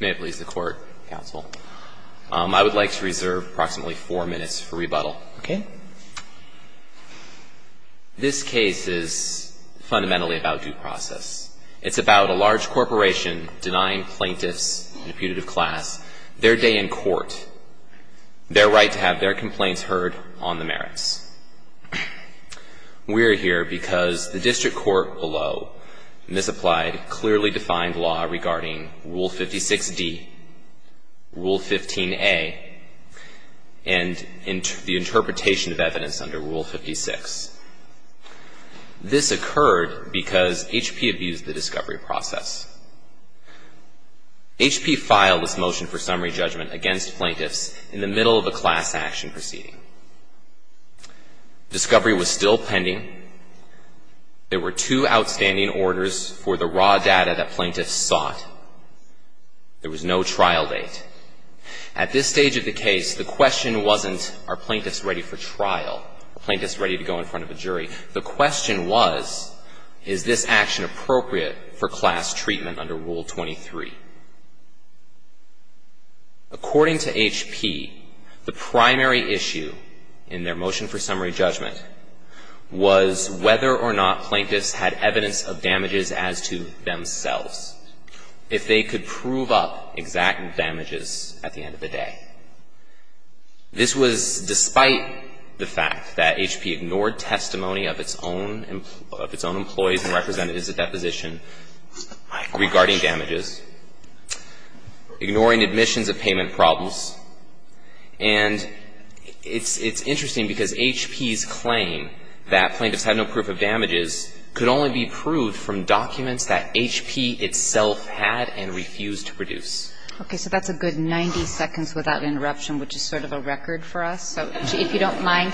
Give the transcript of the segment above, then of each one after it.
May it please the Court, Counsel. I would like to reserve approximately four minutes for rebuttal, okay? This case is fundamentally about due process. It's about a large corporation denying plaintiffs in a putative class their day in court, their right to have their complaints heard on the merits. We're here because the district court below misapplied, clearly defined law regarding Rule 56D, Rule 15A, and the interpretation of evidence under Rule 56. This occurred because HP abused the discovery process. HP filed this motion for summary judgment against plaintiffs in the middle of a class action proceeding. Discovery was still pending. There were two outstanding orders for the raw data that plaintiffs sought. There was no trial date. At this stage of the case, the question wasn't, are plaintiffs ready for trial, are plaintiffs ready to go in front of a jury? The question was, is this action appropriate for class treatment under Rule 23? According to HP, the primary issue in their motion for summary judgment was whether or not plaintiffs had evidence of damages as to themselves, if they could prove up exact damages at the end of the day. This was despite the fact that HP ignored testimony of its own employees and ignoring admissions of payment problems. And it's interesting because HP's claim that plaintiffs had no proof of damages could only be proved from documents that HP itself had and refused to produce. Okay. So that's a good 90 seconds without interruption, which is sort of a record for us. So if you don't mind,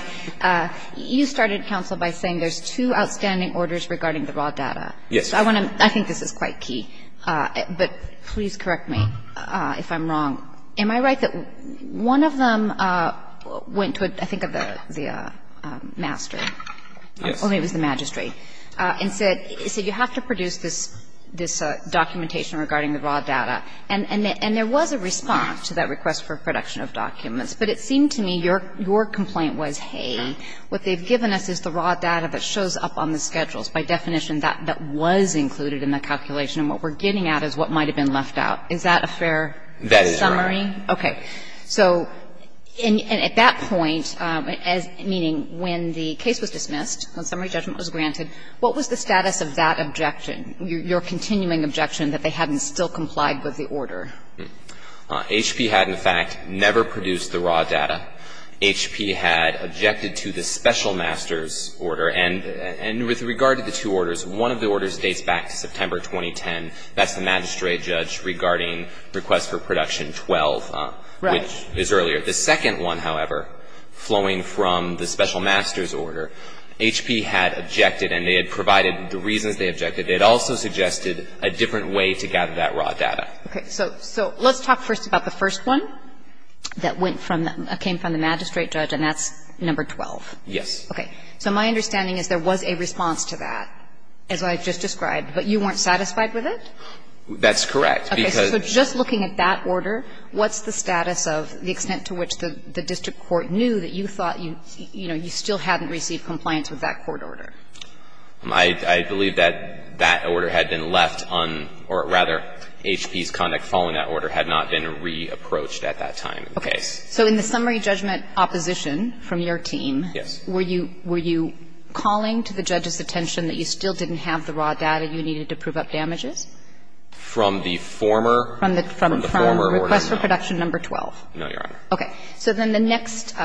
you started, counsel, by saying there's two outstanding orders regarding the raw data. Yes. So I want to – I think this is quite key, but please correct me if I'm wrong. Am I right that one of them went to, I think, the master? Yes. Or maybe it was the magistrate, and said, you have to produce this documentation regarding the raw data. And there was a response to that request for production of documents, but it seemed to me your complaint was, hey, what they've given us is the raw data, and we're not going to produce the raw data. raw data, and we're not going to produce the raw data. So regarding the two orders, one of the orders dates back to September 2010. That's the magistrate judge regarding request for production 12, which is earlier. The second one, however, flowing from the special master's order, HP had objected and they had provided the reasons they objected. They had also suggested a different way to gather that raw data. Okay. So let's talk first about the first one that went from the – came from the magistrate judge, and that's number 12. Yes. Okay. So my understanding is there was a response to that, as I've just described. But you weren't satisfied with it? That's correct, because – Okay. So just looking at that order, what's the status of the extent to which the district court knew that you thought, you know, you still hadn't received compliance with that court order? I believe that that order had been left un – or rather, HP's conduct following that order had not been re-approached at that time in the case. Okay. So in the summary judgment opposition from your team – Yes. Were you – were you calling to the judge's attention that you still didn't have the raw data you needed to prove up damages? From the former – from the former order, no. From request for production number 12. No, Your Honor. Okay. So then the next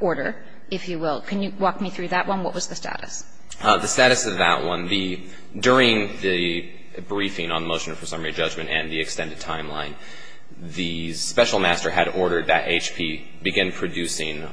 order, if you will, can you walk me through that one? What was the status? The status of that one, the – during the briefing on motion for summary judgment and the extended timeline, the special master had ordered that HP begin producing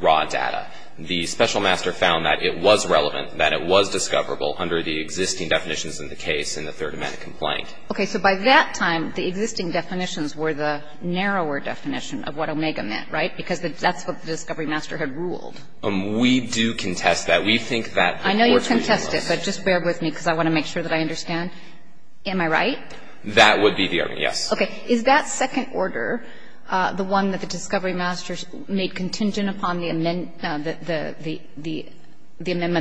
raw data. The special master found that it was relevant, that it was discoverable under the existing definitions in the case in the third amendment complaint. Okay. So by that time, the existing definitions were the narrower definition of what Omega meant, right? Because that's what the discovery master had ruled. We do contest that. We think that the court's ruling was. I know you contest it, but just bear with me because I want to make sure that I understand. Am I right? That would be the argument, yes. Okay. Is that second order, the one that the discovery master made contingent upon the amendment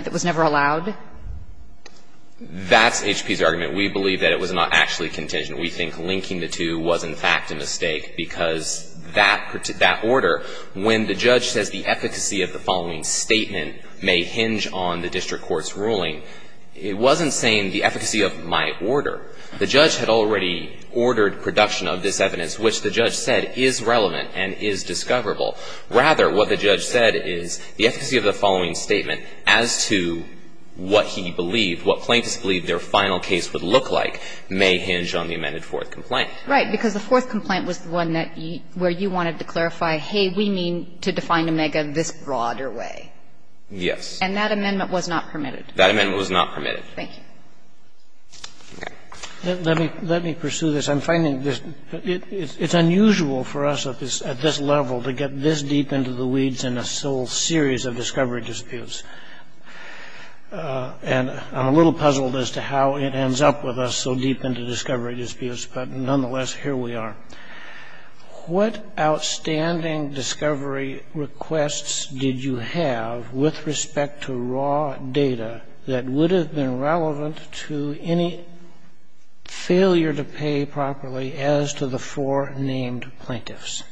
that was never allowed? That's HP's argument. We believe that it was not actually contingent. We think linking the two was, in fact, a mistake because that order, when the judge says the efficacy of the following statement may hinge on the district court's ruling, it wasn't saying the efficacy of my order. The judge had already ordered production of this evidence, which the judge said is relevant and is discoverable. Rather, what the judge said is the efficacy of the following statement as to what he believed, what plaintiffs believed their final case would look like may hinge on the amended fourth complaint. Right. Because the fourth complaint was the one that you – where you wanted to clarify, hey, we mean to define Omega this broader way. Yes. And that amendment was not permitted. That amendment was not permitted. Thank you. Let me pursue this. I'm finding this – it's unusual for us at this level to get this deep into the weeds in a sole series of discovery disputes. And I'm a little puzzled as to how it ends up with us so deep into discovery disputes, but nonetheless, here we are. What outstanding discovery requests did you have with respect to raw data that would have been relevant to any failure to pay properly as to the four named plaintiffs?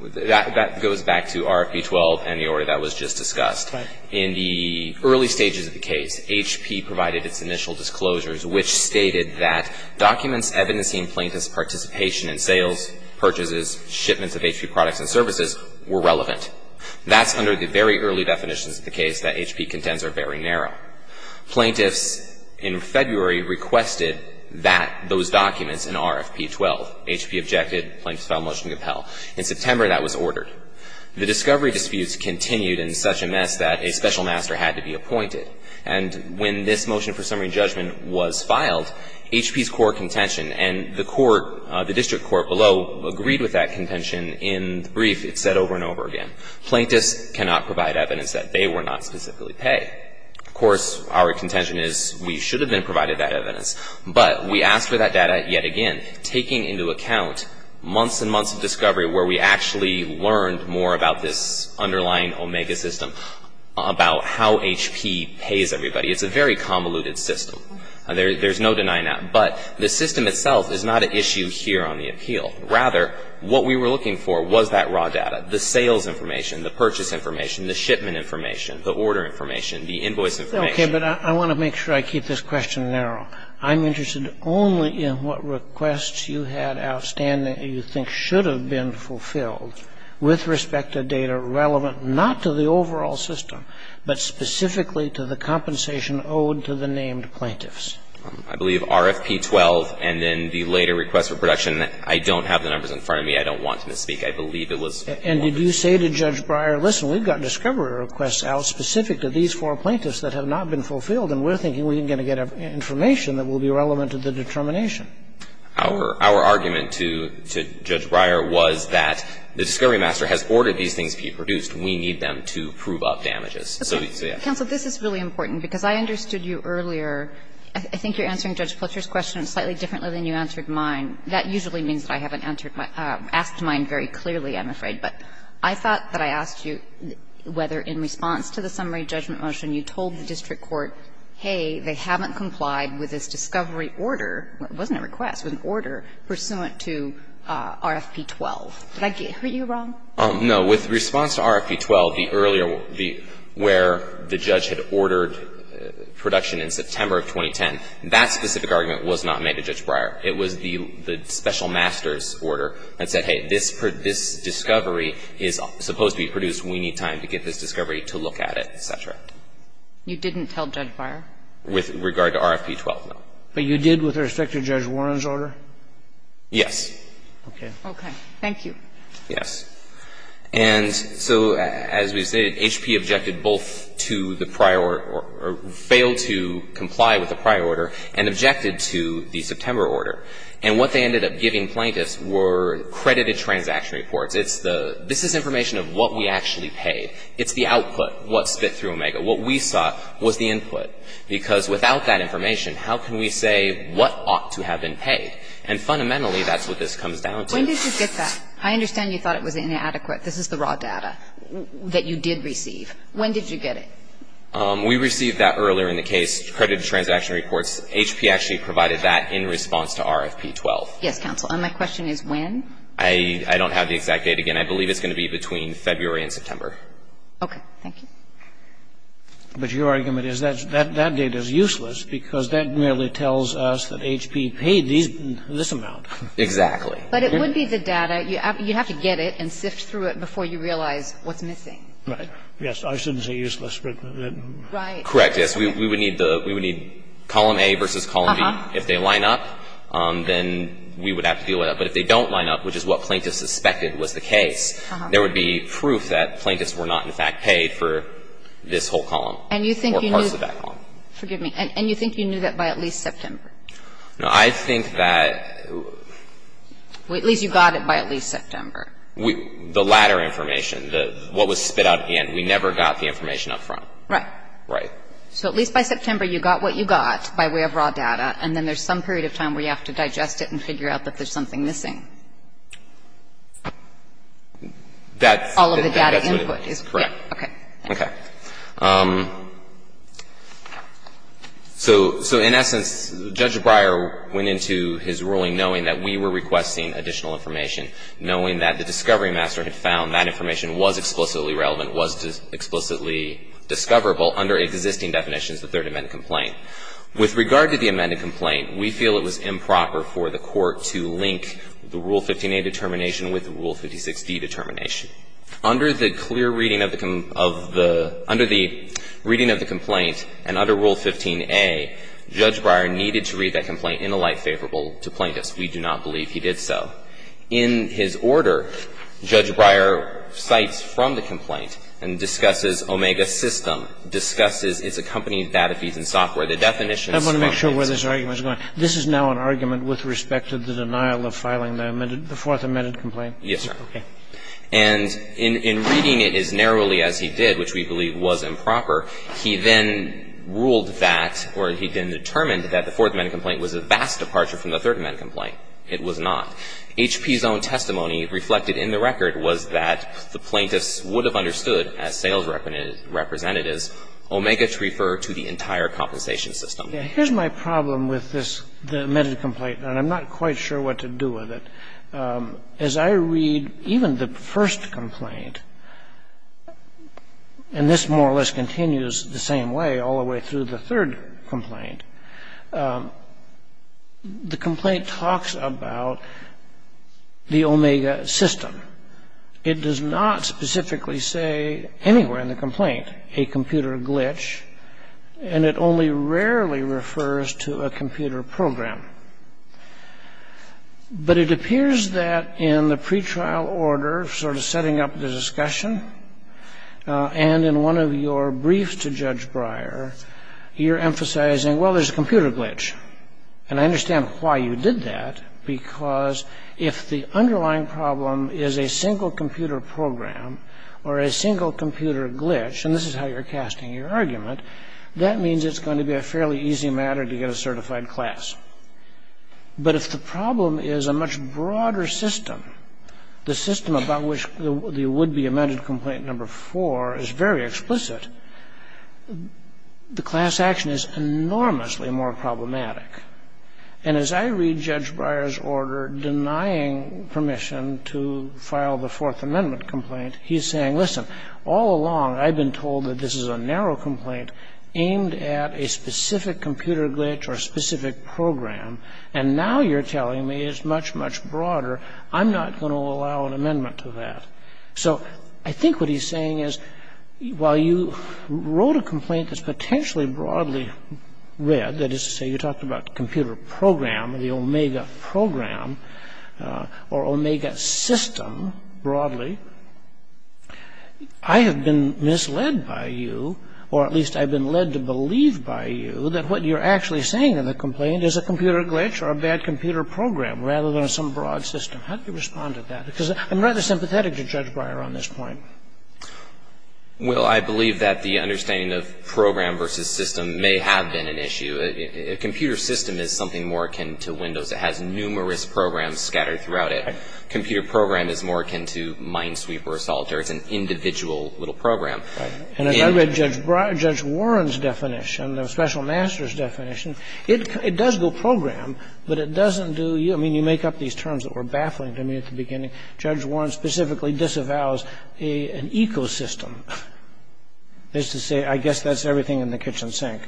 That goes back to RFP 12 and the order that was just discussed. Right. In the early stages of the case, HP provided its initial disclosures, which stated that documents evidencing plaintiffs' participation in sales, purchases, shipments of HP products and services were relevant. That's under the very early definitions of the case that HP contends are very narrow. Plaintiffs in February requested that – those documents in RFP 12. HP objected. Plaintiffs filed a motion to compel. In September, that was ordered. The discovery disputes continued in such a mess that a special master had to be appointed. And when this motion for summary judgment was filed, HP's court contention and the court – the district court below agreed with that contention in the brief. It's said over and over again. Plaintiffs cannot provide evidence that they were not specifically paid. Of course, our contention is we should have been provided that evidence. But we asked for that data yet again, taking into account months and months of discovery where we actually learned more about this underlying Omega system, about how HP pays everybody. It's a very convoluted system. There's no denying that. But the system itself is not an issue here on the appeal. Rather, what we were looking for was that raw data, the sales information, the purchase information, the shipment information, the order information, the invoice information. Okay. But I want to make sure I keep this question narrow. I'm interested only in what requests you had outstanding that you think should have been fulfilled with respect to data relevant not to the overall system, but specifically to the compensation owed to the named plaintiffs. I believe RFP 12 and then the later request for production. I don't have the numbers in front of me. I don't want to misspeak. I believe it was. And did you say to Judge Breyer, listen, we've got discovery requests out specific to these four plaintiffs that have not been fulfilled, and we're thinking we're going to get information that will be relevant to the determination? Our argument to Judge Breyer was that the discovery master has ordered these things to be produced. We need them to prove up damages. So, yes. Counsel, this is really important, because I understood you earlier. I think you're answering Judge Fletcher's question slightly differently than you answered mine. That usually means that I haven't answered my – asked mine very clearly, I'm afraid. But I thought that I asked you whether in response to the summary judgment motion you told the district court, hey, they haven't complied with this discovery order, it wasn't a request, it was an order, pursuant to RFP 12. Did I hear you wrong? No. With response to RFP 12, the earlier, where the judge had ordered production in September of 2010, that specific argument was not made to Judge Breyer. It was the special master's order that said, hey, this discovery is supposed to be produced, we need time to get this discovery to look at it, et cetera. You didn't tell Judge Breyer? With regard to RFP 12, no. But you did with respect to Judge Warren's order? Yes. Okay. Thank you. Yes. And so as we stated, HP objected both to the prior or failed to comply with the prior order and objected to the September order. And what they ended up giving plaintiffs were credited transaction reports. It's the – this is information of what we actually paid. It's the output, what spit through Omega. What we saw was the input. Because without that information, how can we say what ought to have been paid? And fundamentally, that's what this comes down to. When did you get that? I understand you thought it was inadequate. This is the raw data that you did receive. When did you get it? We received that earlier in the case, credited transaction reports. HP actually provided that in response to RFP 12. Yes, counsel. And my question is when? I don't have the exact date again. I believe it's going to be between February and September. Okay. Thank you. But your argument is that that data is useless because that merely tells us that HP paid this amount. Exactly. But it would be the data. You have to get it and sift through it before you realize what's missing. Right. Yes. I shouldn't say useless. Right. Correct, yes. We would need the – we would need column A versus column B. If they line up, then we would have to deal with that. But if they don't line up, which is what plaintiffs suspected was the case, there would be proof that plaintiffs were not, in fact, paid for this whole column or parts of that column. And you think you knew – forgive me. And you think you knew that by at least September? No. I think that – Well, at least you got it by at least September. The latter information, what was spit out at the end. We never got the information up front. Right. Right. So at least by September, you got what you got by way of raw data, and then there's some period of time where you have to digest it and figure out that there's something missing. That's – All of the data input is – Correct. Okay. Thank you. Okay. So in essence, Judge Breyer went into his ruling knowing that we were requesting additional information, knowing that the discovery master had found that information was explicitly relevant, was explicitly discoverable under existing definitions of the Third Amendment complaint. With regard to the amended complaint, we feel it was improper for the Court to link the Rule 15a determination with the Rule 56d determination. Under the clear reading of the – under the reading of the complaint and under Rule 15a, Judge Breyer needed to read that complaint in a light favorable to plaintiffs. We do not believe he did so. In his order, Judge Breyer cites from the complaint and discusses Omega System, discusses its accompanying data feeds and software. The definition is – I want to make sure where this argument is going. This is now an argument with respect to the denial of filing the fourth amended complaint? Okay. And in reading it as narrowly as he did, which we believe was improper, he then ruled that or he then determined that the fourth amended complaint was a vast departure from the third amended complaint. It was not. HP's own testimony reflected in the record was that the plaintiffs would have understood as sales representatives Omega to refer to the entire compensation system. Here's my problem with this, the amended complaint, and I'm not quite sure what to do with it. As I read even the first complaint, and this more or less continues the same way all the way through the third complaint, the complaint talks about the Omega System. It does not specifically say anywhere in the complaint a computer glitch, and it only rarely refers to a computer program. But it appears that in the pretrial order, sort of setting up the discussion, and in one of your briefs to Judge Breyer, you're emphasizing, well, there's a computer glitch. And I understand why you did that, because if the underlying problem is a single computer program or a single computer glitch – and this is how you're casting your argument – that means it's going to be a fairly easy matter to get a certified class. But if the problem is a much broader system, the system about which the would-be amended complaint number four is very explicit, the class action is enormously more problematic. And as I read Judge Breyer's order denying permission to file the Fourth Amendment complaint, he's saying, listen, all along I've been told that this is a narrow complaint aimed at a specific computer glitch or a specific program. And now you're telling me it's much, much broader. I'm not going to allow an amendment to that. So I think what he's saying is, while you wrote a complaint that's potentially broadly read – that is to say, you talked about computer program, the Omega program, or Omega system broadly – I have been misled by you, or at least I've been led to believe by you, that what you're actually saying in the complaint is a computer glitch or a bad computer program rather than some broad system. How do you respond to that? Because I'm rather sympathetic to Judge Breyer on this point. Well, I believe that the understanding of program versus system may have been an issue. A computer system is something more akin to Windows. It has numerous programs scattered throughout it. Computer program is more akin to Minesweeper or Solitaire. It's an individual little program. And as I read Judge Warren's definition, the special master's definition, it does go program, but it doesn't do – I mean, you make up these terms that were baffling to me at the beginning. Judge Warren specifically disavows an ecosystem. That's to say, I guess that's everything in the kitchen sink.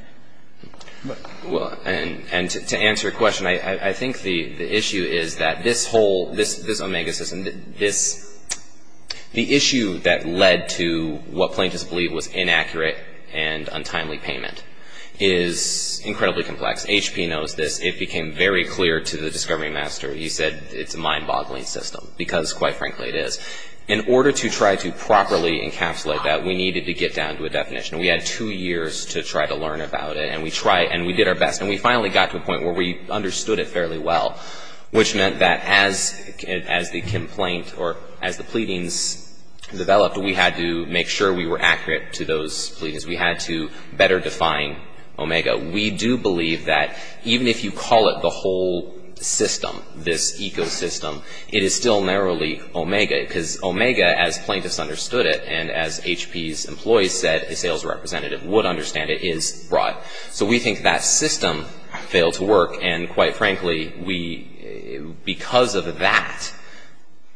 Well, and to answer your question, I think the issue is that this whole – this Omega system, this – the issue that led to what plaintiffs believe was inaccurate and untimely payment is incredibly complex. HP knows this. It became very clear to the discovery master. He said it's a mind-boggling system because, quite frankly, it is. In order to try to properly encapsulate that, we needed to get down to a definition. We had two years to try to learn about it, and we tried, and we did our best. And we finally got to a point where we understood it fairly well, which meant that as the complaint or as the pleadings developed, we had to make sure we were accurate to those pleadings. We had to better define Omega. We do believe that even if you call it the whole system, this ecosystem, it is still narrowly Omega because Omega, as plaintiffs understood it, and as HP's employees said, a sales representative would understand it, is broad. So we think that system failed to work. And quite frankly, we – because of that,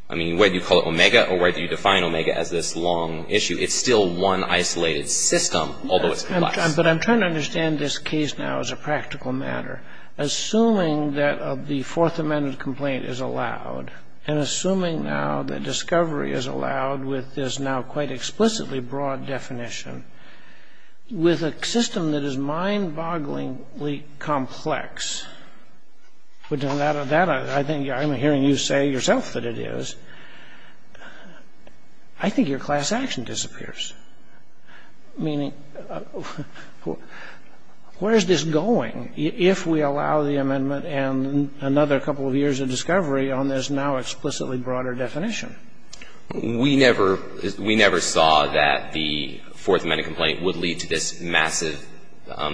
I mean, whether you call it Omega or whether you define Omega as this long issue, it's still one isolated system, although it's complex. But I'm trying to understand this case now as a practical matter. Assuming that the Fourth Amendment complaint is allowed and assuming now that discovery is allowed with this now quite explicitly broad definition, with a system that is mind-bogglingly complex – I think I'm hearing you say yourself that it is – I think your class action disappears, meaning where is this going if we allow the amendment and another couple of years of discovery on this now explicitly broader definition? We never – we never saw that the Fourth Amendment complaint would lead to this massive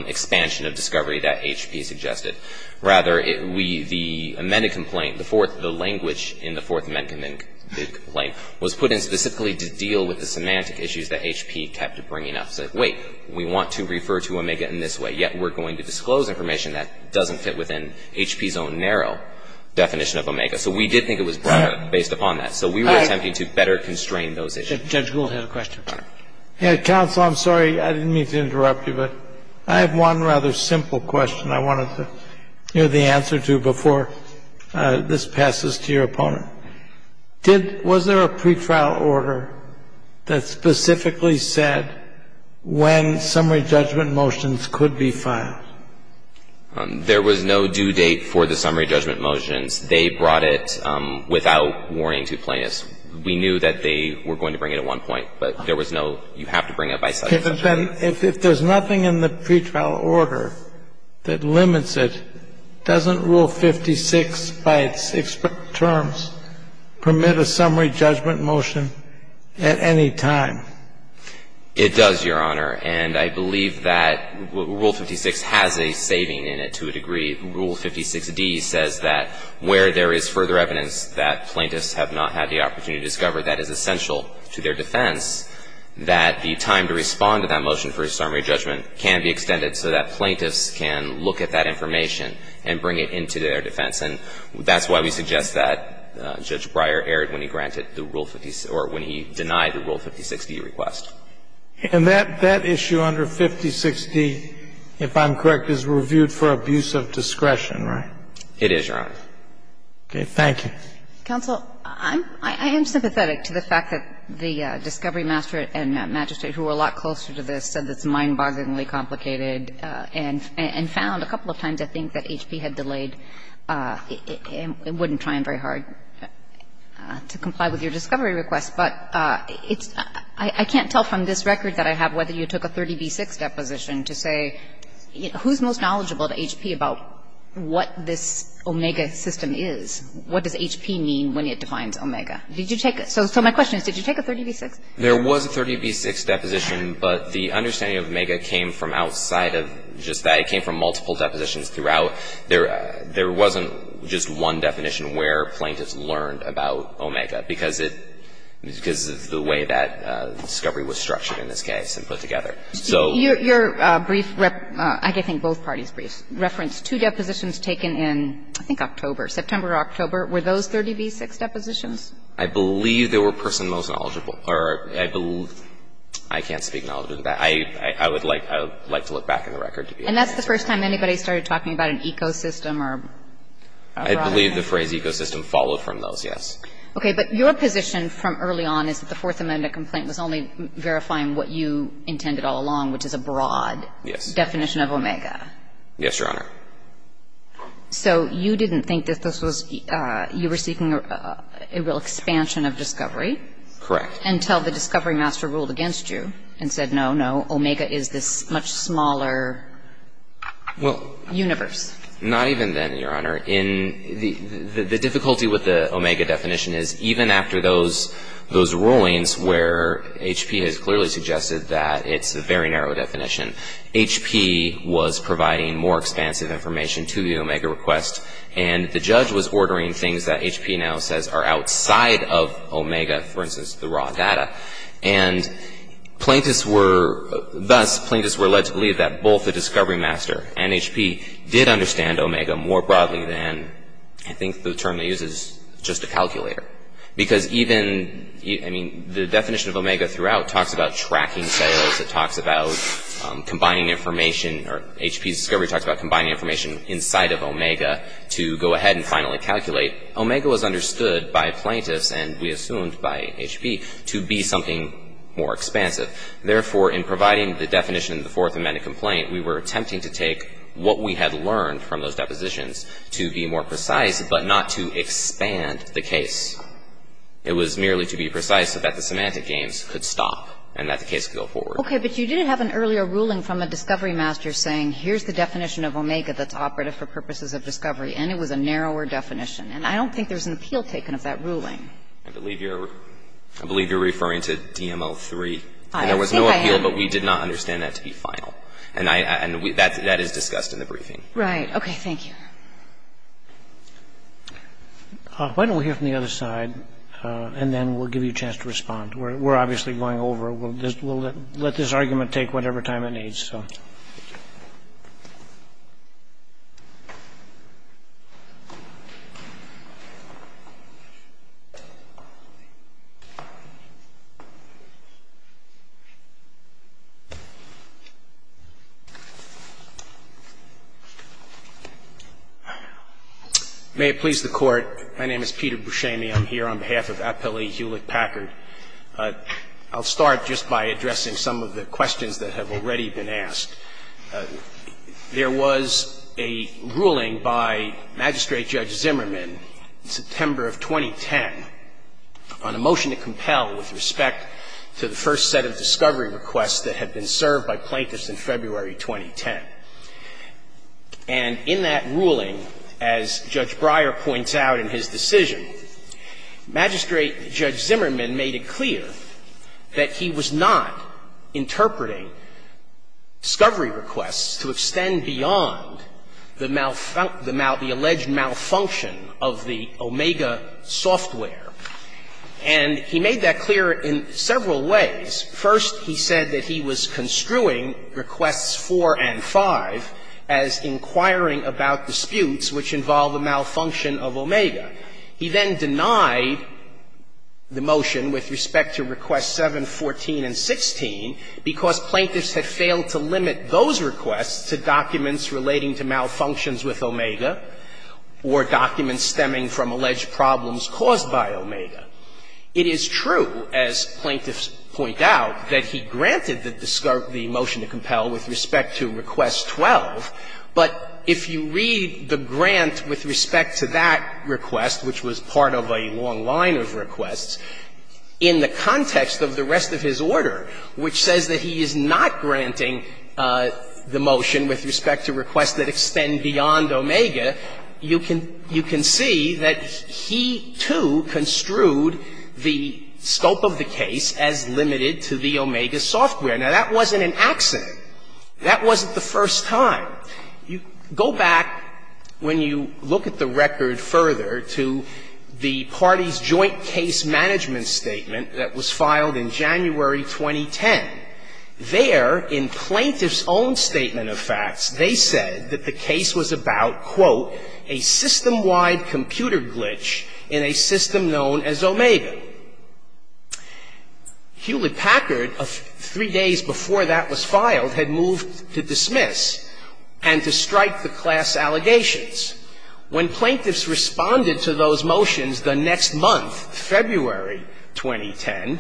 expansion of discovery that HP suggested. Rather, we – the amended complaint, the fourth – the language in the Fourth Amendment complaint was put in specifically to deal with the semantic issues that HP kept bringing up. It's like, wait, we want to refer to Omega in this way, yet we're going to disclose information that doesn't fit within HP's own narrow definition of Omega. So we did think it was broader based upon that. So we were attempting to better constrain those issues. Judge Gould has a question. Counsel, I'm sorry. I didn't mean to interrupt you, but I have one rather simple question I wanted to hear the answer to before this passes to your opponent. Did – was there a pre-trial order that specifically said when summary judgment motions could be filed? There was no due date for the summary judgment motions. They brought it without warning to plaintiffs. We knew that they were going to bring it at one point, but there was no, you have to bring it by such and such order. If there's nothing in the pre-trial order that limits it, doesn't Rule 56 by its terms permit a summary judgment motion at any time? It does, Your Honor. And I believe that Rule 56 has a saving in it to a degree. The Rule 56d says that where there is further evidence that plaintiffs have not had the opportunity to discover that is essential to their defense, that the time to respond to that motion for a summary judgment can be extended so that plaintiffs can look at that information and bring it into their defense. And that's why we suggest that Judge Breyer erred when he granted the Rule 56 or when he denied the Rule 56d request. And that issue under 56d, if I'm correct, is reviewed for abuse of discretion, right? It is, Your Honor. Okay. Thank you. Counsel, I am sympathetic to the fact that the discovery master and magistrate, who are a lot closer to this, said it's mind-bogglingly complicated and found a couple of times, I think, that HP had delayed and wouldn't try very hard to comply with your discovery request. But it's – I can't tell from this record that I have whether you took a 30b-6 deposition to say who's most knowledgeable to HP about what this omega system is. What does HP mean when it defines omega? Did you take – so my question is, did you take a 30b-6? There was a 30b-6 deposition, but the understanding of omega came from outside of just that. It came from multiple depositions throughout. There wasn't just one definition where plaintiffs learned about omega, because it – because of the way that discovery was structured in this case and put together. So – Your brief – I think both parties' briefs referenced two depositions taken in, I think, October. September or October. Were those 30b-6 depositions? I believe they were person most knowledgeable. Or I believe – I can't speak knowledgeably. I would like to look back in the record to be able to say that. And that's the first time anybody started talking about an ecosystem or a problem? I believe the phrase ecosystem followed from those, yes. Okay. But your position from early on is that the Fourth Amendment complaint was only verifying what you intended all along, which is a broad definition of omega. Yes, Your Honor. So you didn't think that this was – you were seeking a real expansion of discovery? Correct. Until the discovery master ruled against you and said, no, no, omega is this much smaller universe. Well, not even then, Your Honor. The difficulty with the omega definition is even after those rulings where HP has clearly suggested that it's a very narrow definition, HP was providing more expansive information to the omega request. And the judge was ordering things that HP now says are outside of omega, for instance, the raw data. And plaintiffs were – thus, plaintiffs were led to believe that both the discovery master and HP did understand omega more broadly than I think the term they use is just a calculator. Because even – I mean, the definition of omega throughout talks about tracking cells. It talks about combining information, or HP's discovery talks about combining information inside of omega to go ahead and finally calculate. Omega was understood by plaintiffs, and we assumed by HP, to be something more expansive. Therefore, in providing the definition of the Fourth Amendment complaint, we were attempting to take what we had learned from those depositions to be more precise, but not to expand the case. It was merely to be precise so that the semantic games could stop and that the case could go forward. Okay. But you did have an earlier ruling from a discovery master saying here's the definition of omega that's operative for purposes of discovery, and it was a narrower definition. And I don't think there's an appeal taken of that ruling. I believe you're – I believe you're referring to DML-3. I think I have. And there was no appeal, but we did not understand that to be final. And that is discussed in the briefing. Right. Okay. Thank you. Why don't we hear from the other side, and then we'll give you a chance to respond. We'll let this argument take whatever time it needs. So. May it please the Court. My name is Peter Buscemi. I'm here on behalf of Appellee Hewlett-Packard. I'll start just by addressing some of the questions that have already been asked. There was a ruling by Magistrate Judge Zimmerman in September of 2010 on a motion to compel with respect to the first set of discovery requests that had been served by plaintiffs in February 2010. And in that ruling, as Judge Breyer points out in his decision, Magistrate Judge Zimmerman made it clear that he was not interpreting discovery requests to extend beyond the alleged malfunction of the Omega software. And he made that clear in several ways. First, he said that he was construing Requests 4 and 5 as inquiring about disputes which involve the malfunction of Omega. He then denied the motion with respect to Requests 7, 14, and 16 because plaintiffs had failed to limit those requests to documents relating to malfunctions with Omega or documents stemming from alleged problems caused by Omega. It is true, as plaintiffs point out, that he granted the motion to compel with respect to Requests 12, but if you read the grant with respect to that request, which was part of a long line of requests, in the context of the rest of his order, which says that he is not granting the motion with respect to requests that extend beyond Omega, you can see that he, too, construed the scope of the case as limited to the Omega software. Now, that wasn't an accident. That wasn't the first time. Go back, when you look at the record further, to the parties' joint case management statement that was filed in January 2010. There, in plaintiffs' own statement of facts, they said that the case was about, quote, a system-wide computer glitch in a system known as Omega. Hewlett-Packard, three days before that was filed, had moved to dismiss and to strike the class allegations. When plaintiffs responded to those motions the next month, February 2010,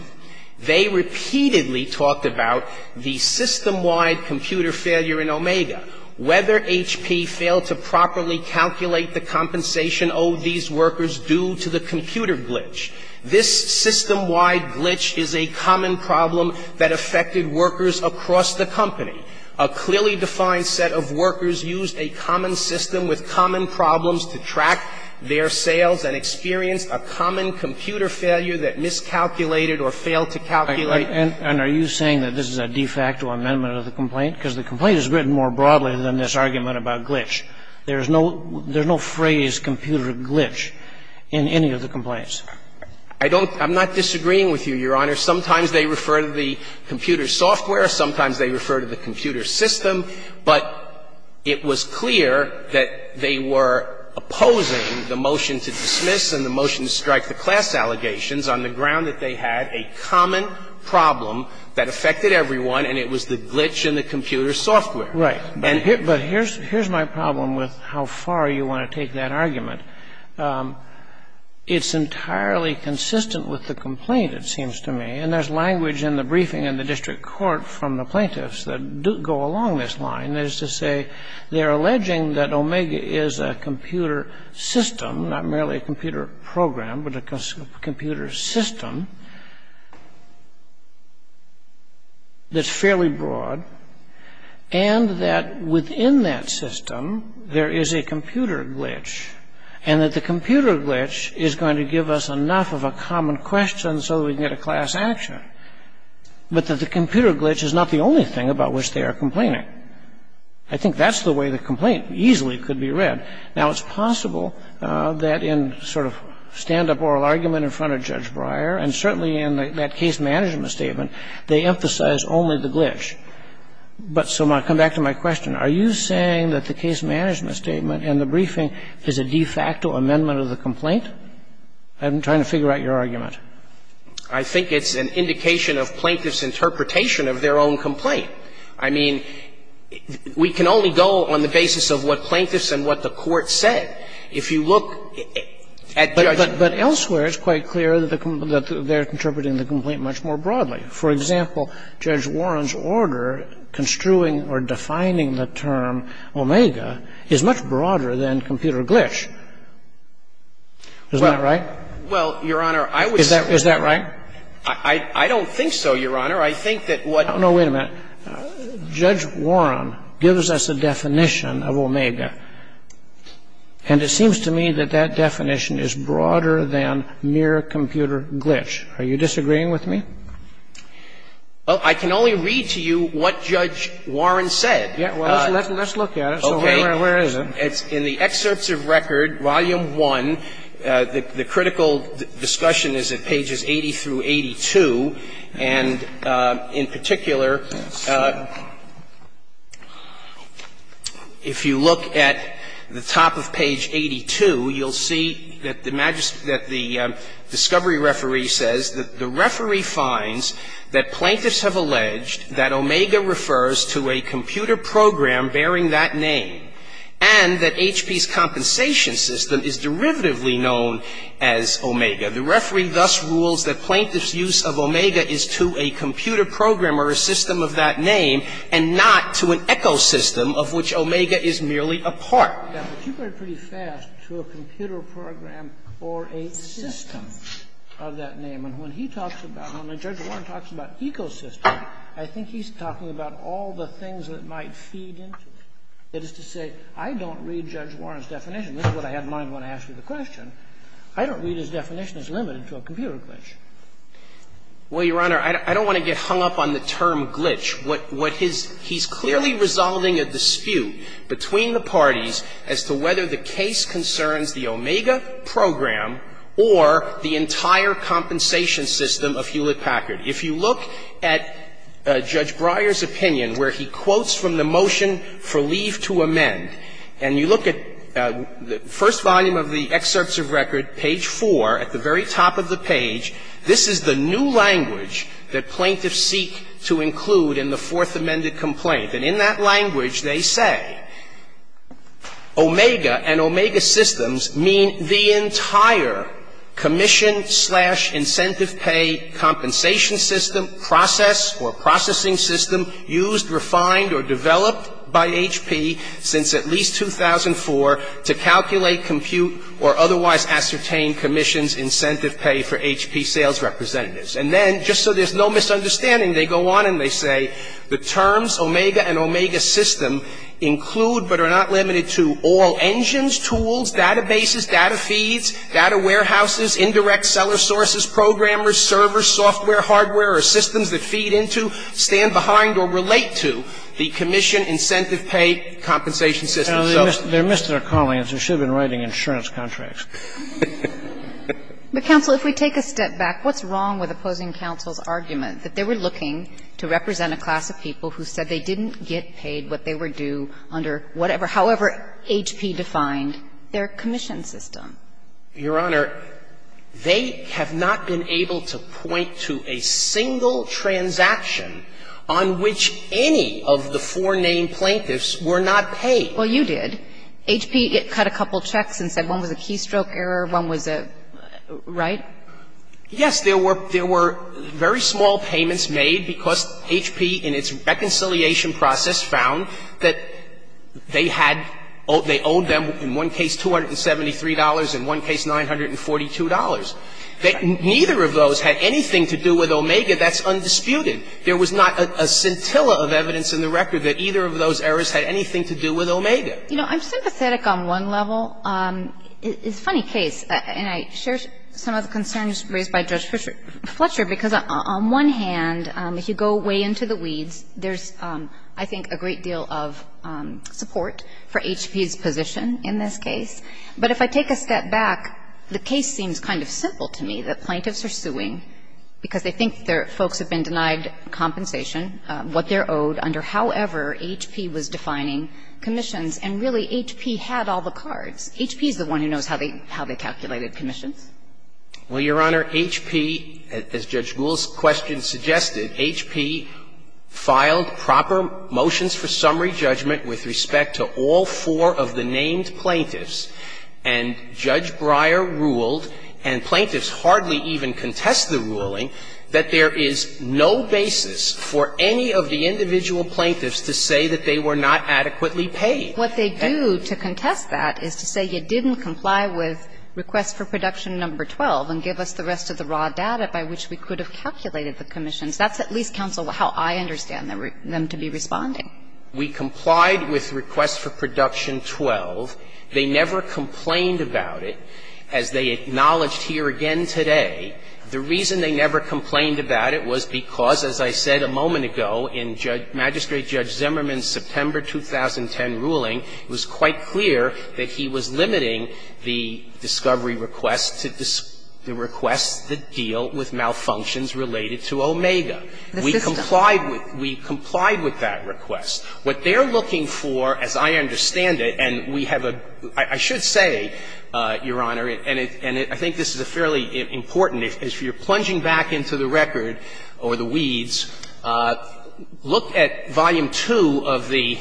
they repeatedly talked about the system-wide computer failure in Omega, whether HP failed to properly calculate the compensation owed these workers due to the computer glitch. This system-wide glitch is a common problem that affected workers across the company. A clearly defined set of workers used a common system with common problems to track their sales and experienced a common computer failure that miscalculated or failed to calculate. And are you saying that this is a de facto amendment of the complaint? Because the complaint is written more broadly than this argument about glitch. There is no phrase, computer glitch, in any of the complaints. I don't – I'm not disagreeing with you, Your Honor. Sometimes they refer to the computer software. Sometimes they refer to the computer system. But it was clear that they were opposing the motion to dismiss and the motion to strike the class allegations on the ground that they had a common problem that affected everyone, and it was the glitch in the computer software. Right. But here's my problem with how far you want to take that argument. It's entirely consistent with the complaint, it seems to me. And there's language in the briefing in the district court from the plaintiffs that go along this line as to say they're alleging that Omega is a computer system, not merely a computer program, but a computer system that's fairly broad, and that within that system there is a computer glitch, and that the computer glitch is going to give us enough of a common question so that we can get a class action, but that the computer glitch is not the only thing about which they are complaining. I think that's the way the complaint easily could be read. Now, it's possible that in sort of stand-up oral argument in front of Judge Breyer, But so my question, are you saying that the case management statement in the briefing is a de facto amendment of the complaint? I'm trying to figure out your argument. I think it's an indication of plaintiffs' interpretation of their own complaint. I mean, we can only go on the basis of what plaintiffs and what the court said. If you look at Judge Breyer. But elsewhere it's quite clear that they're interpreting the complaint much more broadly. For example, Judge Warren's order construing or defining the term omega is much broader than computer glitch. Isn't that right? Well, Your Honor, I would say. Is that right? I don't think so, Your Honor. I think that what. No, wait a minute. Judge Warren gives us a definition of omega. And it seems to me that that definition is broader than mere computer glitch. Are you disagreeing with me? Well, I can only read to you what Judge Warren said. Let's look at it. Where is it? It's in the excerpts of record, volume 1. The critical discussion is at pages 80 through 82. And in particular, if you look at the top of page 82, you'll see that the discovery referee says that the referee finds that plaintiffs have alleged that omega refers to a computer program bearing that name and that HP's compensation system is derivatively known as omega. The referee thus rules that plaintiff's use of omega is to a computer program or a system of that name and not to an ecosystem of which omega is merely a part. Now, but you went pretty fast to a computer program or a system of that name. And when he talks about it, when Judge Warren talks about ecosystem, I think he's talking about all the things that might feed into it. That is to say, I don't read Judge Warren's definition. This is what I had in mind when I asked you the question. I don't read his definition as limited to a computer glitch. Well, Your Honor, I don't want to get hung up on the term glitch. He's clearly resolving a dispute between the parties as to whether the case concerns the omega program or the entire compensation system of Hewlett-Packard. If you look at Judge Breyer's opinion, where he quotes from the motion for leave to amend, and you look at the first volume of the excerpts of record, page 4, at the very top of the page, this is the new language that plaintiffs seek to include in the Fourth Amendment complaint. And in that language, they say, omega and omega systems mean the entire commission slash incentive pay compensation system process or processing system used, refined or developed by HP since at least 2004 to calculate, compute or otherwise ascertain commission's incentive pay for HP sales representatives. And then, just so there's no misunderstanding, they go on and they say the terms omega and omega system include but are not limited to all engines, tools, databases, data feeds, data warehouses, indirect seller sources, programmers, servers, software, hardware or systems that feed into, stand behind or relate to the commission incentive pay compensation system. They missed their calling. They should have been writing insurance contracts. But, counsel, if we take a step back, what's wrong with opposing counsel's argument that they were looking to represent a class of people who said they didn't get paid what they were due under whatever, however HP defined their commission system? Your Honor, they have not been able to point to a single transaction on which any of the four named plaintiffs were not paid. Well, you did. HP cut a couple checks and said one was a keystroke error, one was a, right? Yes. There were very small payments made because HP in its reconciliation process found that they had, they owed them in one case $273, in one case $942. Neither of those had anything to do with omega. That's undisputed. There was not a scintilla of evidence in the record that either of those errors had anything to do with omega. You know, I'm sympathetic on one level. It's a funny case. And I share some of the concerns raised by Judge Fletcher because on one hand, if you go way into the weeds, there's, I think, a great deal of support for HP's position in this case. But if I take a step back, the case seems kind of simple to me that plaintiffs are suing because they think their folks have been denied compensation, what they're owed under however HP was defining commissions, and really HP had all the cards. HP is the one who knows how they calculated commissions. Well, Your Honor, HP, as Judge Gould's question suggested, HP filed proper motions for summary judgment with respect to all four of the named plaintiffs. And Judge Breyer ruled, and plaintiffs hardly even contest the ruling, that there is no basis for any of the individual plaintiffs to say that they were not adequately paid. What they do to contest that is to say you didn't comply with request for production number 12 and give us the rest of the raw data by which we could have calculated the commissions. That's at least, counsel, how I understand them to be responding. We complied with request for production 12. They never complained about it. As they acknowledged here again today, the reason they never complained about it was because, as I said a moment ago in Judge – Magistrate Judge Zimmerman's September 2010 ruling, it was quite clear that he was limiting the discovery request to the request that deal with malfunctions related to Omega. We complied with that request. What they're looking for, as I understand it, and we have a – I should say, Your Honor, and it – and I think this is a fairly important – if you're plunging back into the record or the weeds, look at volume 2 of the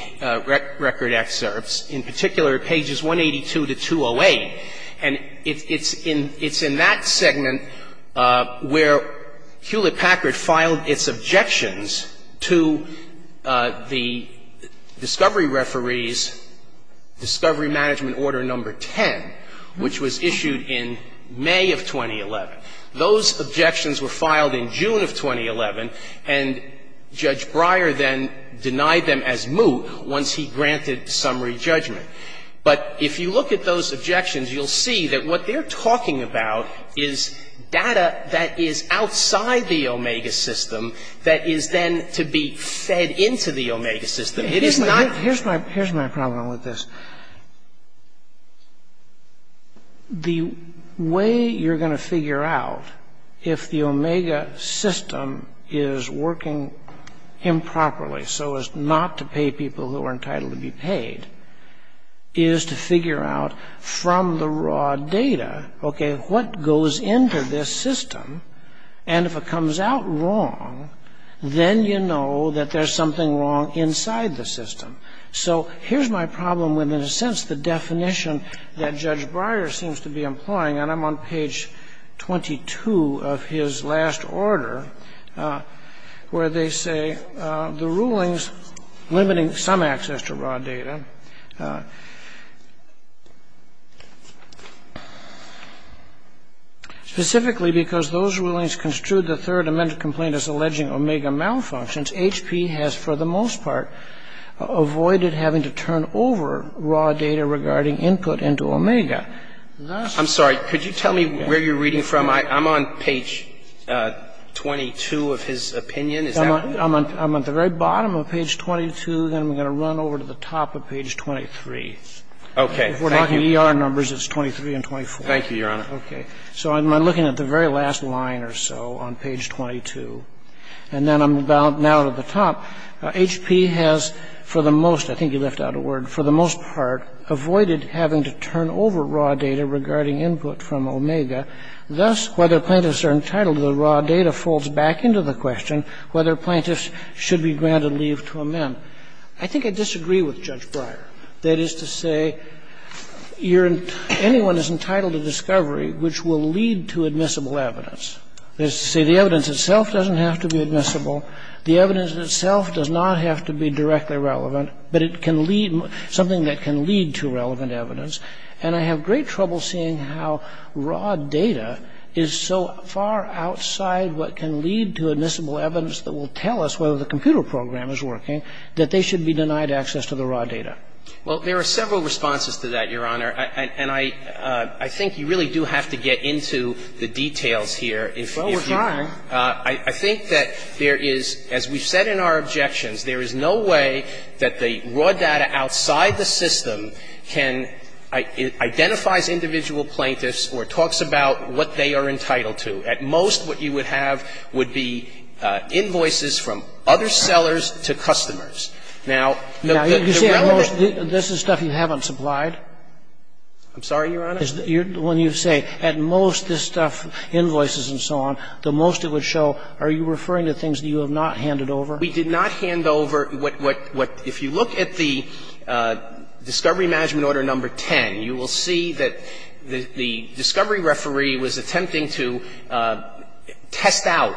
record excerpts, in particular pages 182 to 208, and it's in – it's in that segment where Hewlett-Packard filed its objections to the discovery referee's discovery management order number 10, which was issued in May of 2011. Those objections were filed in June of 2011, and Judge Breyer then denied them as moot once he granted summary judgment. But if you look at those objections, you'll see that what they're talking about is data that is outside the Omega system that is then to be fed into the Omega system. It is not – The way you're going to figure out if the Omega system is working improperly so as not to pay people who are entitled to be paid is to figure out from the raw data, okay, what goes into this system, and if it comes out wrong, then you know that there's something wrong inside the system. So here's my problem with, in a sense, the definition that Judge Breyer seems to be employing, and I'm on page 22 of his last order, where they say the rulings limiting some access to raw data, specifically because those rulings construed the third amendment complaint as alleging Omega malfunctions. So there's a lot of confusion here. But I think it's important to understand that the system that's HP has for the most That's why the rules limiting some access to raw data. Roberts. I'm sorry. Could you tell me where you're reading from? I'm on page 22 of his opinion. Is that correct? I'm on the very bottom of page 22. Then I'm going to run over to the top of page 23. Okay. Thank you. If we're talking ER numbers, it's 23 and 24. Thank you, Your Honor. Okay. So I'm looking at the very last line or so on page 22. And then I'm about now to the top. HP has, for the most, I think you left out a word, for the most part, avoided having to turn over raw data regarding input from Omega. Thus, whether plaintiffs are entitled to the raw data folds back into the question whether plaintiffs should be granted leave to amend. I think I disagree with Judge Breyer. That is to say, anyone is entitled to discovery which will lead to admissible evidence. That is to say, the evidence itself doesn't have to be admissible. The evidence itself does not have to be directly relevant, but it can lead, something that can lead to relevant evidence. And I have great trouble seeing how raw data is so far outside what can lead to admissible evidence that will tell us whether the computer program is working, that they should be denied access to the raw data. Well, there are several responses to that, Your Honor. And I think you really do have to get into the details here. Well, we're trying. I think that there is, as we've said in our objections, there is no way that the raw data outside the system can identify as individual plaintiffs or talks about what they are entitled to. At most, what you would have would be invoices from other sellers to customers. Now, the relevant – Now, you say at most this is stuff you haven't supplied? I'm sorry, Your Honor? When you say at most this stuff, invoices and so on, the most it would show, are you referring to things that you have not handed over? We did not hand over what – if you look at the discovery management order number 10, you will see that the discovery referee was attempting to test out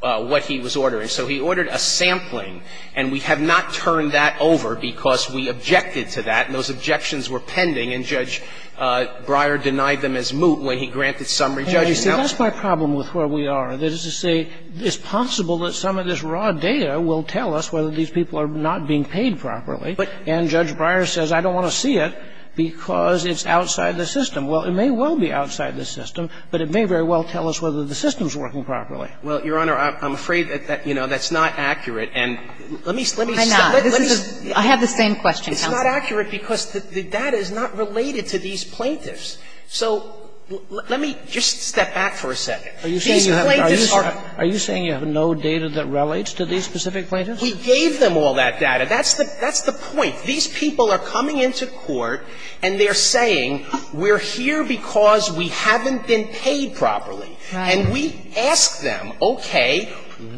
what he was ordering, so he ordered a sampling. And we have not turned that over because we objected to that, and those objections were pending. And Judge Breyer denied them as moot when he granted summary. Judge, you see, that's my problem with where we are. That is to say, it's possible that some of this raw data will tell us whether these people are not being paid properly. And Judge Breyer says, I don't want to see it because it's outside the system. Well, it may well be outside the system, but it may very well tell us whether the system is working properly. Well, Your Honor, I'm afraid that, you know, that's not accurate. And let me – let me – Why not? I have the same question, counsel. It's not accurate because the data is not related to these plaintiffs. So let me just step back for a second. These plaintiffs are – Are you saying you have no data that relates to these specific plaintiffs? We gave them all that data. That's the – that's the point. These people are coming into court and they're saying, we're here because we haven't been paid properly. Right. And we ask them, okay,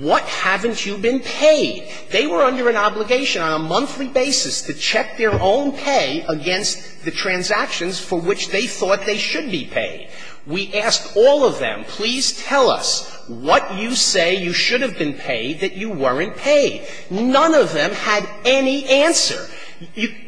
what haven't you been paid? They were under an obligation on a monthly basis to check their own pay against the transactions for which they thought they should be paid. We asked all of them, please tell us what you say you should have been paid that you weren't paid. None of them had any answer.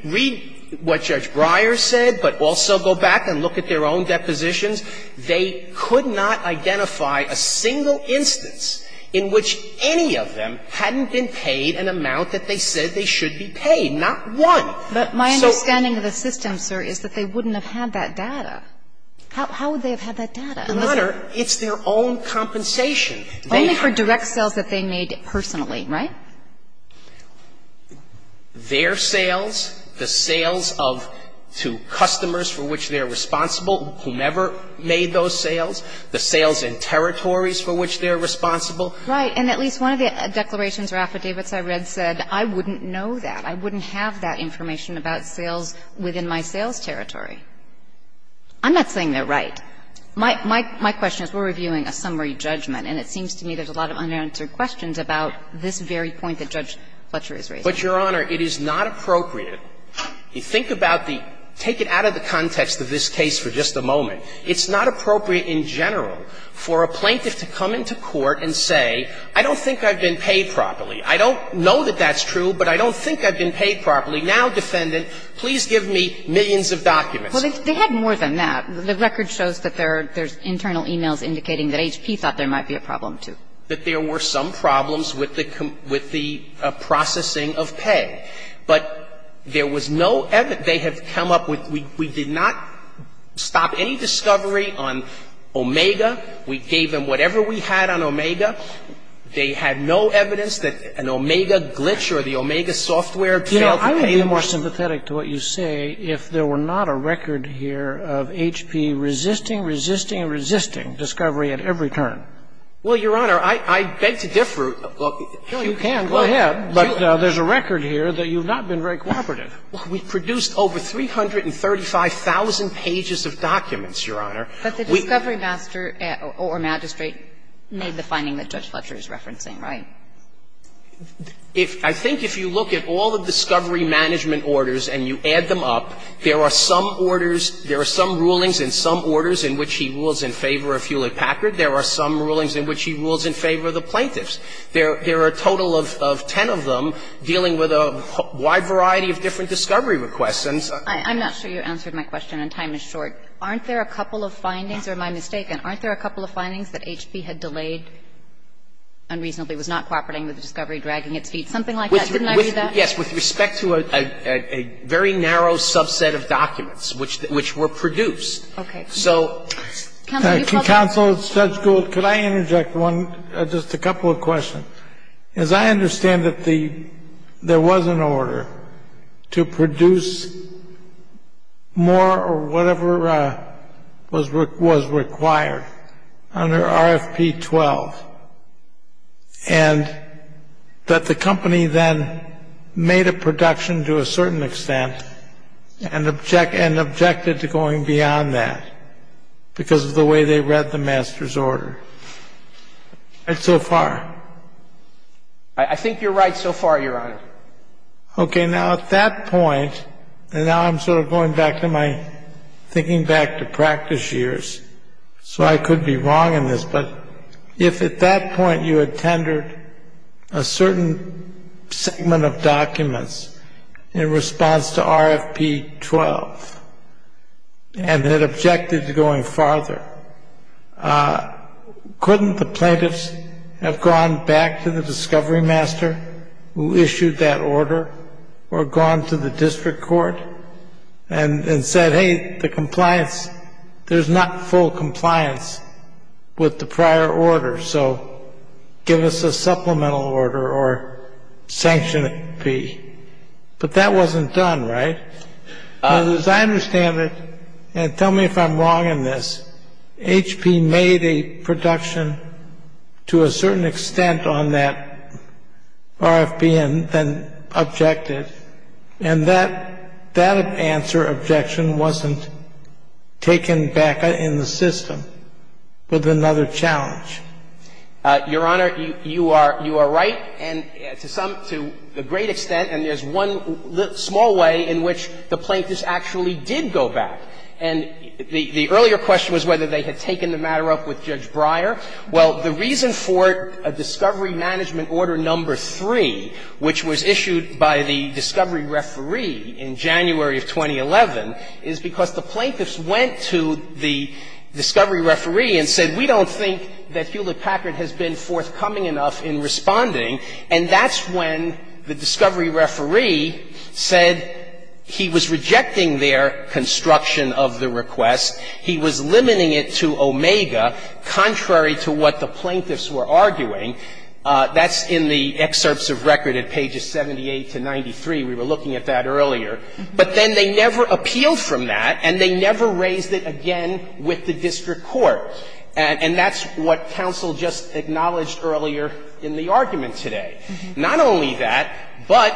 Read what Judge Breyer said, but also go back and look at their own depositions. They could not identify a single instance in which any of them hadn't been paid an amount that they said they should be paid, not one. But my understanding of the system, sir, is that they wouldn't have had that data. How would they have had that data? Your Honor, it's their own compensation. Only for direct sales that they made personally, right? Their sales, the sales of to customers for which they're responsible, whomever made those sales, the sales and territories for which they're responsible. Right. And at least one of the declarations or affidavits I read said, I wouldn't know that. I wouldn't have that information about sales within my sales territory. I'm not saying they're right. My question is, we're reviewing a summary judgment, and it seems to me there's a lot of unanswered questions about this very point that Judge Fletcher is raising. But, Your Honor, it is not appropriate. Think about the – take it out of the context of this case for just a moment. It's not appropriate in general for a plaintiff to come into court and say, I don't think I've been paid properly. I don't know that that's true, but I don't think I've been paid properly. Now, defendant, please give me millions of documents. Well, they had more than that. The record shows that there are – there's internal emails indicating that HP thought there might be a problem, too. That there were some problems with the processing of pay. But there was no – they have come up with – we did not stop any discovery on Omega. We gave them whatever we had on Omega. They had no evidence that an Omega glitch or the Omega software failed to pay them. You know, I would be more sympathetic to what you say if there were not a record here of HP resisting, resisting, and resisting discovery at every turn. Well, Your Honor, I beg to differ. No, you can. Go ahead. But there's a record here that you've not been very cooperative. We produced over 335,000 pages of documents, Your Honor. But the discovery master or magistrate made the finding that Judge Fletcher is referencing. Right. If – I think if you look at all the discovery management orders and you add them up, there are some orders – there are some rulings and some orders in which he rules in favor of Hewlett-Packard. There are some rulings in which he rules in favor of the plaintiffs. There are a total of ten of them dealing with a wide variety of different discovery requests. I'm not sure you answered my question and time is short. Aren't there a couple of findings? Or am I mistaken? Aren't there a couple of findings that HP had delayed unreasonably, was not cooperating with the discovery, dragging its feet, something like that? Didn't I read that? Yes, with respect to a very narrow subset of documents which were produced. Okay. So, counsel, it's Judge Gould. Could I interject one – just a couple of questions? As I understand it, there was an order to produce more or whatever was required under RFP 12, and that the company then made a production to a certain extent and objected to going beyond that because of the way they read the master's order. Right so far? I think you're right so far, Your Honor. Okay. Now, at that point, and now I'm sort of going back to my thinking back to practice years, so I could be wrong in this, but if at that point you had tendered a certain segment of documents in response to RFP 12 and had objected to going farther, couldn't the plaintiffs have gone back to the discovery master who issued that order or gone to the district court and said, hey, the compliance – there's not full sanction P. But that wasn't done, right? As I understand it, and tell me if I'm wrong in this, HP made a production to a certain extent on that RFP and then objected, and that answer, objection, wasn't taken back in the system with another challenge. Your Honor, you are right, and to some – to a great extent, and there's one small way in which the plaintiffs actually did go back. And the earlier question was whether they had taken the matter up with Judge Breyer. Well, the reason for a discovery management order number three, which was issued by the discovery referee in January of 2011, is because the plaintiffs went to the discovery referee and said, you know, I think Hewlett Packard has been forthcoming enough in responding, and that's when the discovery referee said he was rejecting their construction of the request, he was limiting it to omega, contrary to what the plaintiffs were arguing. That's in the excerpts of record at pages 78 to 93. We were looking at that earlier. But then they never appealed from that, and they never raised it again with the district court, and that's what counsel just acknowledged earlier in the argument today. Not only that, but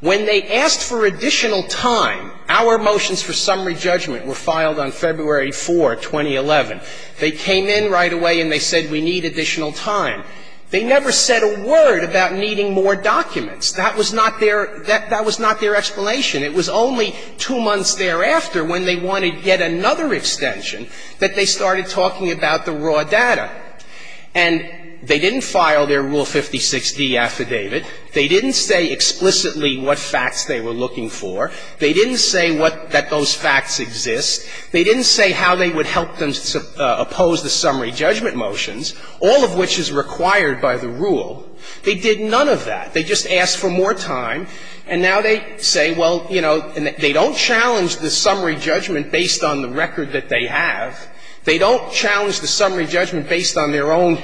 when they asked for additional time, our motions for summary judgment were filed on February 4, 2011. They came in right away and they said we need additional time. They never said a word about needing more documents. That was not their – that was not their explanation. It was only two months thereafter, when they wanted yet another extension, that they started talking about the raw data. And they didn't file their Rule 56d affidavit. They didn't say explicitly what facts they were looking for. They didn't say what – that those facts exist. They didn't say how they would help them oppose the summary judgment motions, all of which is required by the rule. They did none of that. They just asked for more time. And now they say, well, you know, they don't challenge the summary judgment based on the record that they have. They don't challenge the summary judgment based on their own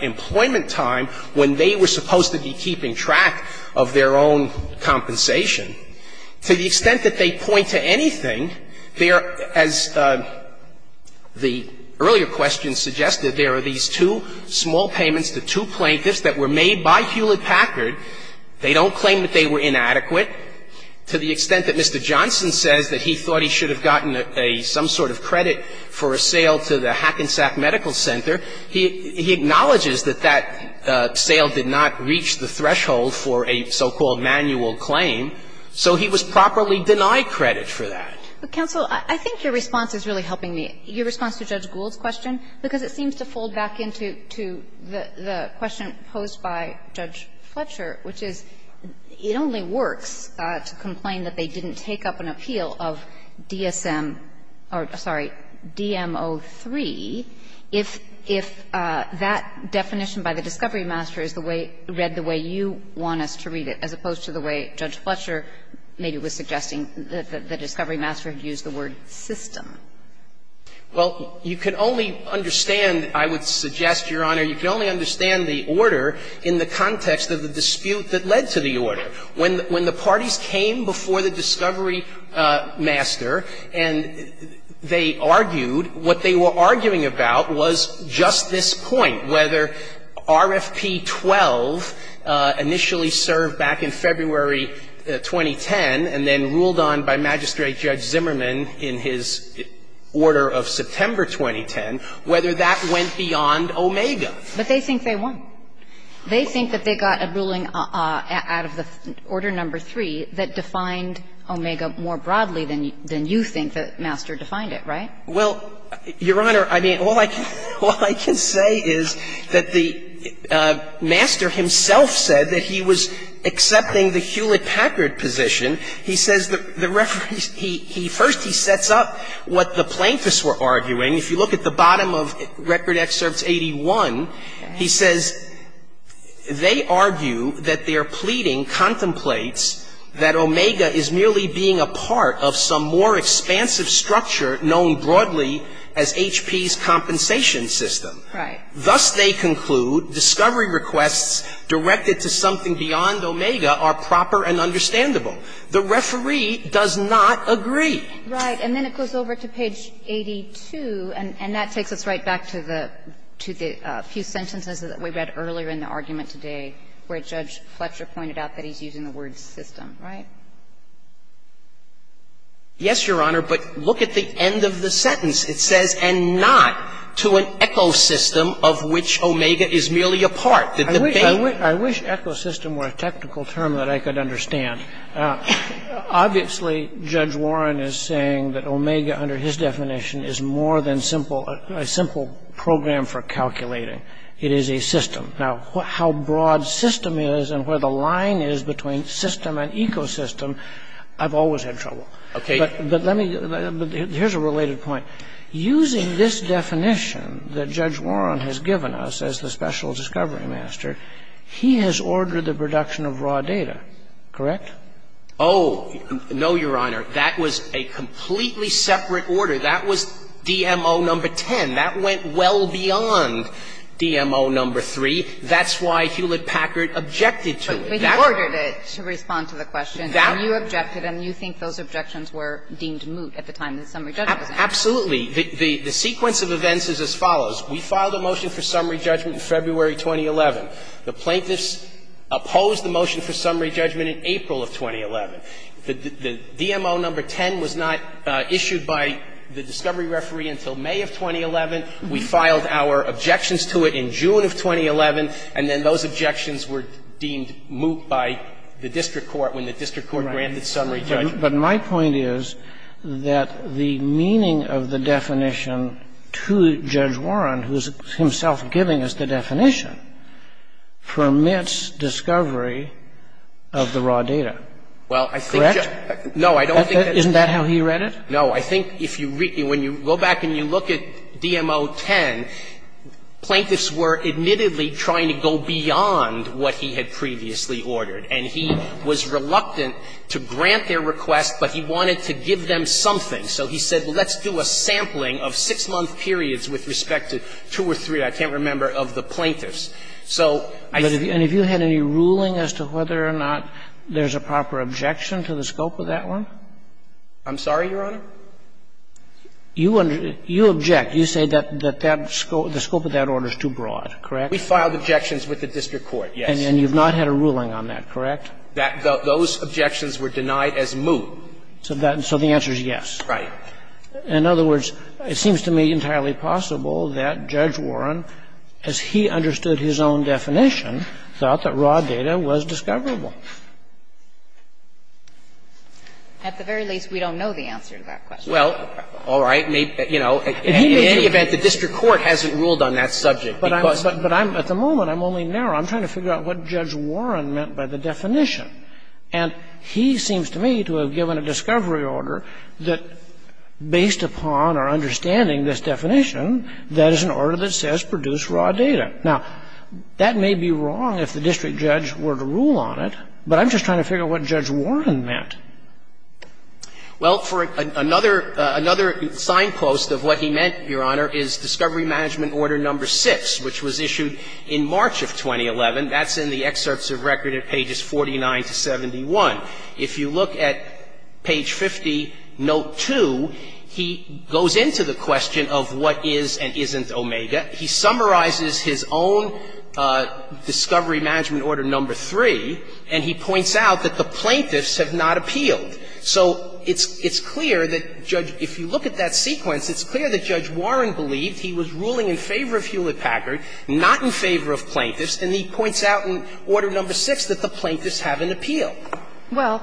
employment time when they were supposed to be keeping track of their own compensation. To the extent that they point to anything, there – as the earlier question suggested, there are these two small payments to two plaintiffs that were made by Hewlett Packard. They don't claim that they were inadequate. To the extent that Mr. Johnson says that he thought he should have gotten a – some sort of credit for a sale to the Hackensack Medical Center, he – he acknowledges that that sale did not reach the threshold for a so-called manual claim. So he was properly denied credit for that. But, counsel, I think your response is really helping me. Your response to Judge Gould's question, because it seems to fold back into the question posed by Judge Fletcher, which is, it only works to complain that they didn't take up an appeal of DSM – or, sorry, DM-03 if – if that definition by the discovery master is the way – read the way you want us to read it, as opposed to the way Judge Fletcher maybe was suggesting the discovery master had used the word system. Well, you can only understand, I would suggest, Your Honor, you can only understand the order in the context of the dispute that led to the order. When the parties came before the discovery master and they argued, what they were arguing about was just this point, whether RFP-12 initially served back in February 2010 and then ruled on by Magistrate Judge Zimmerman in his order of September 2010, whether that went beyond Omega. But they think they won. They think that they got a ruling out of the Order No. 3 that defined Omega more broadly than you think the master defined it, right? Well, Your Honor, I mean, all I can say is that the master himself said that he was accepting the Hewlett-Packard position. He says the reference – first, he sets up what the plaintiffs were arguing. If you look at the bottom of Record Excerpts 81, he says they argue that their pleading contemplates that Omega is merely being a part of some more expansive structure known broadly as HP's compensation system. Right. Thus, they conclude discovery requests directed to something beyond Omega are proper and understandable. The referee does not agree. Right. And then it goes over to page 82, and that takes us right back to the few sentences that we read earlier in the argument today, where Judge Fletcher pointed out that he's using the word system, right? Yes, Your Honor, but look at the end of the sentence. It says, And not to an ecosystem of which Omega is merely a part. I wish ecosystem were a technical term that I could understand. Obviously, Judge Warren is saying that Omega, under his definition, is more than a simple program for calculating. It is a system. Now, how broad system is and where the line is between system and ecosystem, I've always had trouble. Okay. But here's a related point. Using this definition that Judge Warren has given us as the special discovery master, he has ordered the production of raw data, correct? Oh, no, Your Honor. That was a completely separate order. That was DMO number 10. That went well beyond DMO number 3. That's why Hewlett-Packard objected to it. But he ordered it to respond to the question, and you objected, and you think those objections were deemed moot at the time the summary judgment was announced. Absolutely. The sequence of events is as follows. We filed a motion for summary judgment in February 2011. The plaintiffs opposed the motion for summary judgment in April of 2011. The DMO number 10 was not issued by the discovery referee until May of 2011. We filed our objections to it in June of 2011, and then those objections were deemed moot by the district court when the district court granted summary judgment. But my point is that the meaning of the definition to Judge Warren, who is himself giving us the definition, permits discovery of the raw data. Correct? No, I don't think that's it. Isn't that how he read it? No. I think if you read ñ when you go back and you look at DMO 10, plaintiffs were admittedly trying to go beyond what he had previously ordered. And he was reluctant to grant their request, but he wanted to give them something. So he said, well, let's do a sampling of six-month periods with respect to two or three, I can't remember, of the plaintiffs. So I thinkó And have you had any ruling as to whether or not there's a proper objection to the scope of that one? I'm sorry, Your Honor? You object. You say that that scope ñ the scope of that order is too broad. Correct? We filed objections with the district court, yes. And you've not had a ruling on that. Correct? Those objections were denied as moot. So the answer is yes. Right. In other words, it seems to me entirely possible that Judge Warren, as he understood his own definition, thought that raw data was discoverable. At the very least, we don't know the answer to that question. Well, all right. In any event, the district court hasn't ruled on that subject becauseó But I'm ñ at the moment, I'm only narrowing. I'm trying to figure out what Judge Warren meant by the definition. And he seems to me to have given a discovery order that, based upon our understanding this definition, that is an order that says produce raw data. Now, that may be wrong if the district judge were to rule on it, but I'm just trying to figure out what Judge Warren meant. Well, for another signpost of what he meant, Your Honor, is Discovery Management Order No. 6, which was issued in March of 2011. That's in the excerpts of record at pages 49 to 71. If you look at page 50, note 2, he goes into the question of what is and isn't omega. He summarizes his own Discovery Management Order No. 3, and he points out that the plaintiffs have not appealed. So it's clear that Judge ñ if you look at that sequence, it's clear that Judge Warren believed he was ruling in favor of Hewlett-Packard, not in favor of plaintiffs, and he points out in Order No. 6 that the plaintiffs haven't appealed. Well,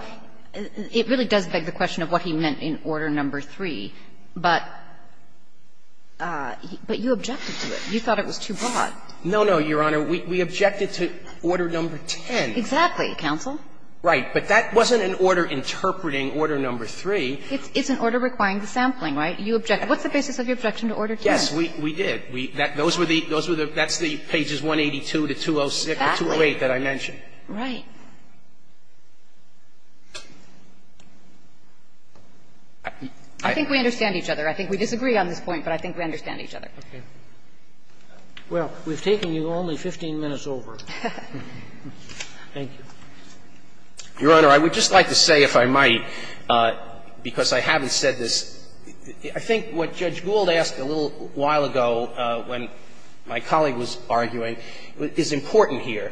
it really does beg the question of what he meant in Order No. 3, but you objected to it. You thought it was too broad. No, no, Your Honor. We objected to Order No. 10. Exactly, counsel. Right. But that wasn't an order interpreting Order No. 3. It's an order requiring the sampling, right? What's the basis of your objection to Order No. 10? Yes, we did. Those were the ñ that's the pages 182 to 206 or 208 that I mentioned. Right. I think we understand each other. I think we disagree on this point, but I think we understand each other. Okay. Well, we've taken you only 15 minutes over. Thank you. Your Honor, I would just like to say, if I might, because I haven't said this, I think what Judge Gould asked a little while ago when my colleague was arguing is important here.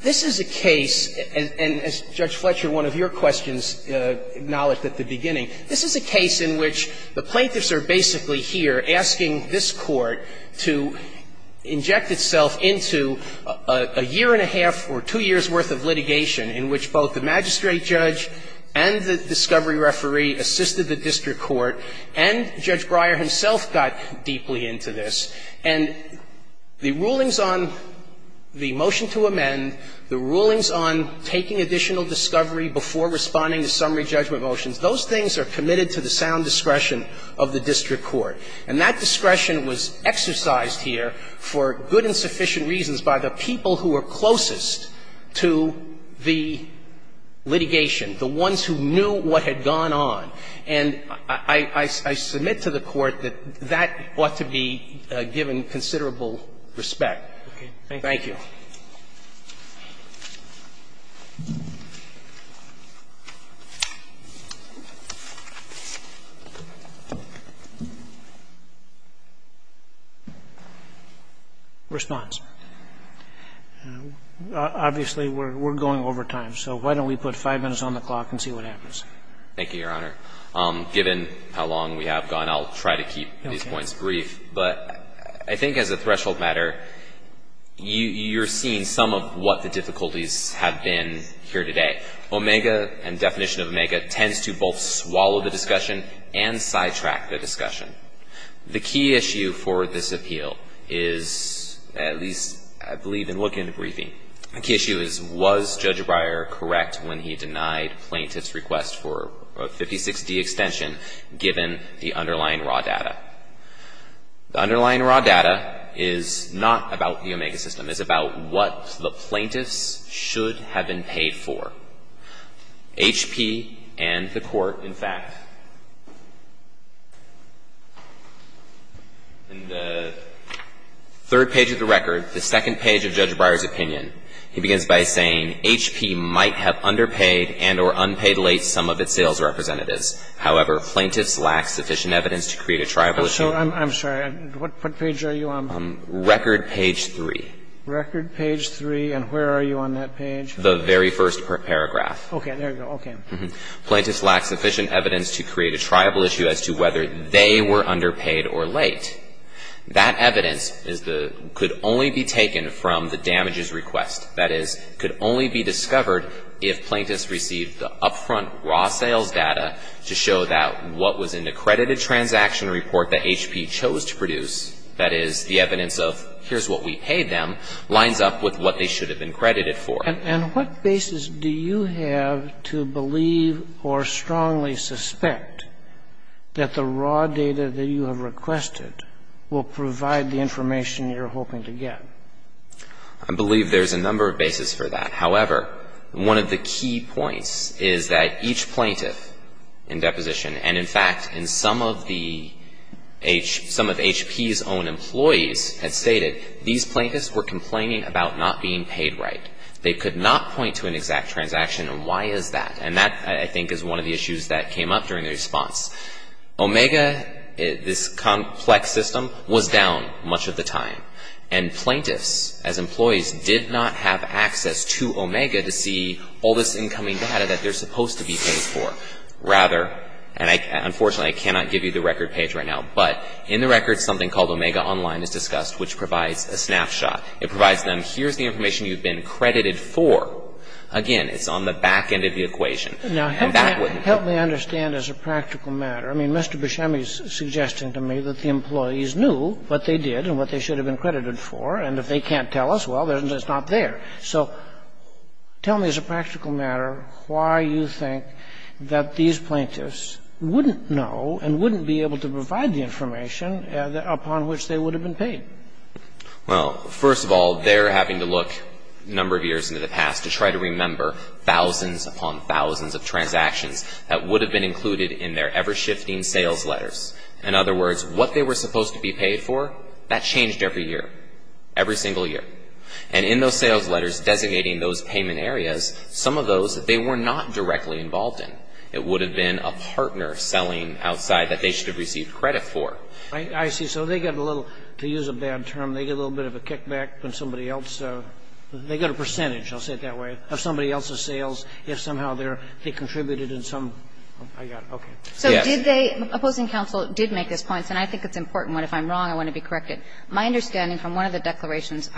This is a case, and as Judge Fletcher, one of your questions, acknowledged at the beginning, this is a case in which the plaintiffs are basically here asking this Court to inject itself into a year and a half or two years' worth of litigation in which both the magistrate judge and the discovery referee assisted the district court, and Judge Breyer himself got deeply into this. And the rulings on the motion to amend, the rulings on taking additional discovery before responding to summary judgment motions, those things are committed to the sound discretion of the district court. And that discretion was exercised here for good and sufficient reasons by the people who were closest to the litigation, the ones who knew what had gone on. And I submit to the Court that that ought to be given considerable respect. Thank you. Roberts. Response. Obviously, we're going over time, so why don't we put 5 minutes on the clock and see what happens. Thank you, Your Honor. Given how long we have gone, I'll try to keep these points brief. But I think as a threshold matter, you're seeing some of what the difficulties have been here today. Omega and definition of omega tends to both swallow the discussion and sidetrack the discussion. The key issue for this appeal is, at least I believe in looking at the briefing, the key issue is was Judge Breyer correct when he denied plaintiffs' request for a The underlying raw data is not about the omega system. It's about what the plaintiffs should have been paid for. HP and the Court, in fact, in the third page of the record, the second page of Judge Breyer's opinion, he begins by saying, HP might have underpaid and or unpaid late some of its sales representatives. However, plaintiffs lack sufficient evidence to create a tribal issue. I'm sorry. What page are you on? Record page 3. Record page 3. And where are you on that page? The very first paragraph. Okay. There you go. Okay. Plaintiffs lack sufficient evidence to create a tribal issue as to whether they were underpaid or late. That evidence is the – could only be taken from the damages request. That is, could only be discovered if plaintiffs received the upfront raw sales data to show that what was in the credited transaction report that HP chose to produce, that is, the evidence of here's what we paid them, lines up with what they should have been credited for. And what basis do you have to believe or strongly suspect that the raw data that you have requested will provide the information you're hoping to get? I believe there's a number of bases for that. However, one of the key points is that each plaintiff in deposition, and in fact, in some of the – some of HP's own employees had stated these plaintiffs were complaining about not being paid right. They could not point to an exact transaction, and why is that? And that, I think, is one of the issues that came up during the response. Omega, this complex system, was down much of the time. And plaintiffs, as employees, did not have access to Omega to see all this incoming data that they're supposed to be paid for. Rather – and I – unfortunately, I cannot give you the record page right now, but in the record, something called Omega Online is discussed, which provides a snapshot. It provides them, here's the information you've been credited for. Again, it's on the back end of the equation. And that wouldn't be – Now, help me – help me understand as a practical matter. I mean, Mr. Buscemi is suggesting to me that the employees knew what they did and what they should have been credited for. And if they can't tell us, well, then it's not there. So tell me as a practical matter why you think that these plaintiffs wouldn't know and wouldn't be able to provide the information upon which they would have been paid. Well, first of all, they're having to look a number of years into the past to try to remember thousands upon thousands of transactions that would have been included in their ever-shifting sales letters. In other words, what they were supposed to be paid for, that changed every year, every single year. And in those sales letters designating those payment areas, some of those they were not directly involved in. It would have been a partner selling outside that they should have received credit for. I see. So they get a little – to use a bad term, they get a little bit of a kickback from somebody else. They get a percentage, I'll say it that way, of somebody else's sales if somehow they're – they contributed in some – I got it. Yes. Did they – opposing counsel did make those points, and I think it's important one. If I'm wrong, I want to be corrected. My understanding from one of the declarations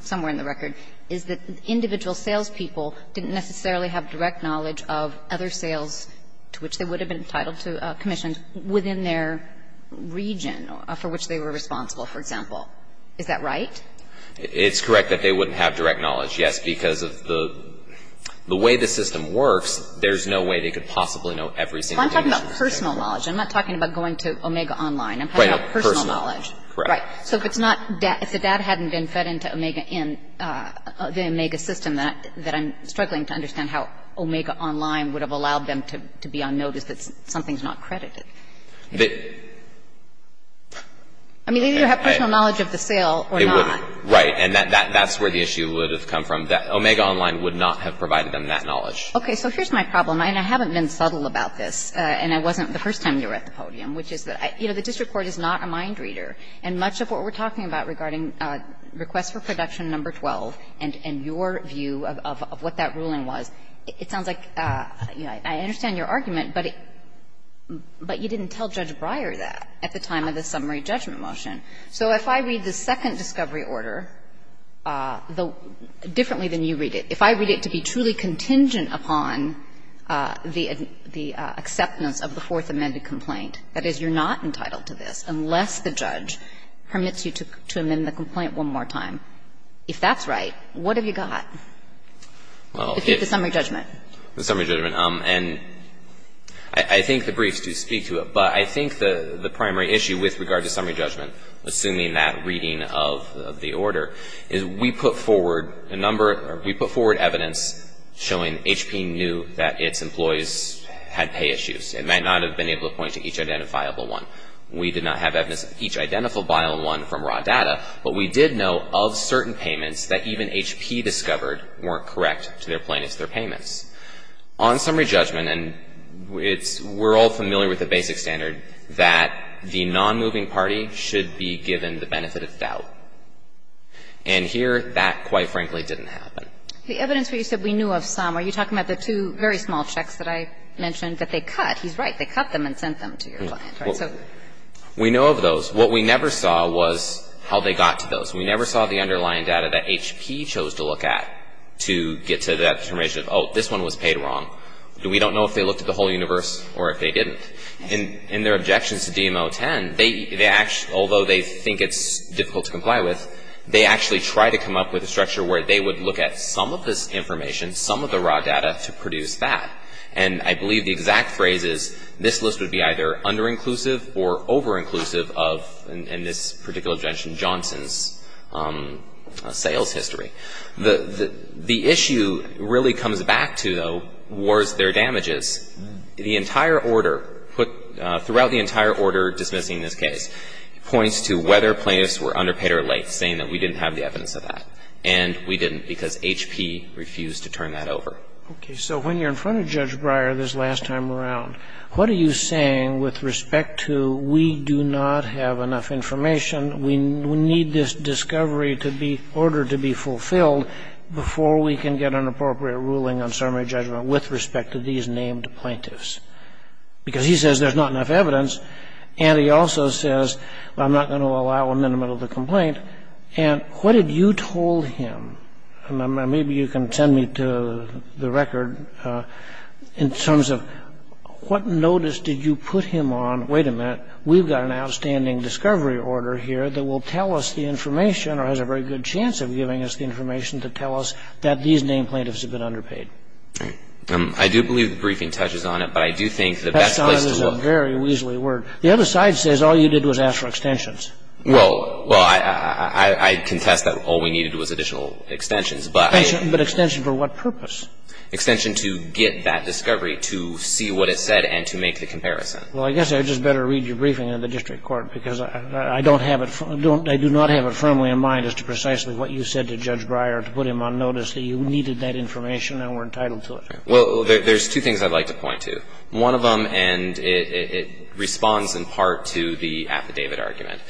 somewhere in the record is that individual salespeople didn't necessarily have direct knowledge of other sales to which they would have been entitled to commissions within their region for which they were responsible, for example. Is that right? It's correct that they wouldn't have direct knowledge, yes, because of the way the system works, there's no way they could possibly know every single thing. Well, I'm talking about personal knowledge. I'm not talking about going to Omega Online. I'm talking about personal knowledge. Right. Personal. Correct. Right. So if it's not – if the data hadn't been fed into Omega in – the Omega system that I'm struggling to understand how Omega Online would have allowed them to be on notice that something's not credited. The – I mean, they either have personal knowledge of the sale or not. They wouldn't. Right. And that's where the issue would have come from, that Omega Online would not have provided them that knowledge. Okay. So here's my problem, and I haven't been subtle about this, and it wasn't the first time you were at the podium, which is that, you know, the district court is not a mind reader. And much of what we're talking about regarding requests for production number 12 and your view of what that ruling was, it sounds like, you know, I understand your argument, but you didn't tell Judge Breyer that at the time of the summary judgment motion. So if I read the second discovery order differently than you read it, if I read it to be truly contingent upon the acceptance of the fourth amended complaint, that is, you're not entitled to this unless the judge permits you to amend the complaint one more time, if that's right, what have you got to keep the summary judgment? The summary judgment. And I think the briefs do speak to it, but I think the primary issue with regard to summary judgment, assuming that reading of the order, is we put forward a number or we put forward evidence showing HP knew that its employees had pay issues. It might not have been able to point to each identifiable one. We did not have evidence of each identifiable one from raw data, but we did know of certain payments that even HP discovered weren't correct to their plaintiffs, their payments. On summary judgment, and we're all familiar with the basic standard, that the nonmoving party should be given the benefit of doubt. And here, that, quite frankly, didn't happen. The evidence where you said we knew of some, are you talking about the two very small checks that I mentioned that they cut? He's right. They cut them and sent them to your client. We know of those. What we never saw was how they got to those. We never saw the underlying data that HP chose to look at to get to that determination of, oh, this one was paid wrong. We don't know if they looked at the whole universe or if they didn't. In their objections to DM-010, although they think it's difficult to comply with, they actually try to come up with a structure where they would look at some of this information, some of the raw data, to produce that. And I believe the exact phrase is, this list would be either under-inclusive or over-inclusive of, in this particular objection, Johnson's sales history. The issue really comes back to, though, was their damages. The entire order, throughout the entire order dismissing this case, points to whether plaintiffs were underpaid or late, saying that we didn't have the evidence of that, and we didn't because HP refused to turn that over. Okay. So when you're in front of Judge Breyer this last time around, what are you saying with respect to, we do not have enough information, we need this discovery to be ordered to be fulfilled before we can get an appropriate ruling on summary name plaintiffs? Because he says there's not enough evidence, and he also says, I'm not going to allow a minimum of the complaint. And what did you told him? And maybe you can send me to the record in terms of what notice did you put him on, wait a minute, we've got an outstanding discovery order here that will tell us the information or has a very good chance of giving us the information to tell us that these named plaintiffs have been underpaid. I do believe the briefing touches on it, but I do think the best place to look. That sounds like a very weaselly word. The other side says all you did was ask for extensions. Well, I contest that all we needed was additional extensions, but I. But extension for what purpose? Extension to get that discovery, to see what it said, and to make the comparison. Well, I guess I'd just better read your briefing in the district court, because I don't have it, I do not have it firmly in mind as to precisely what you said to Judge Well, there's two things I'd like to point to. One of them, and it responds in part to the affidavit argument.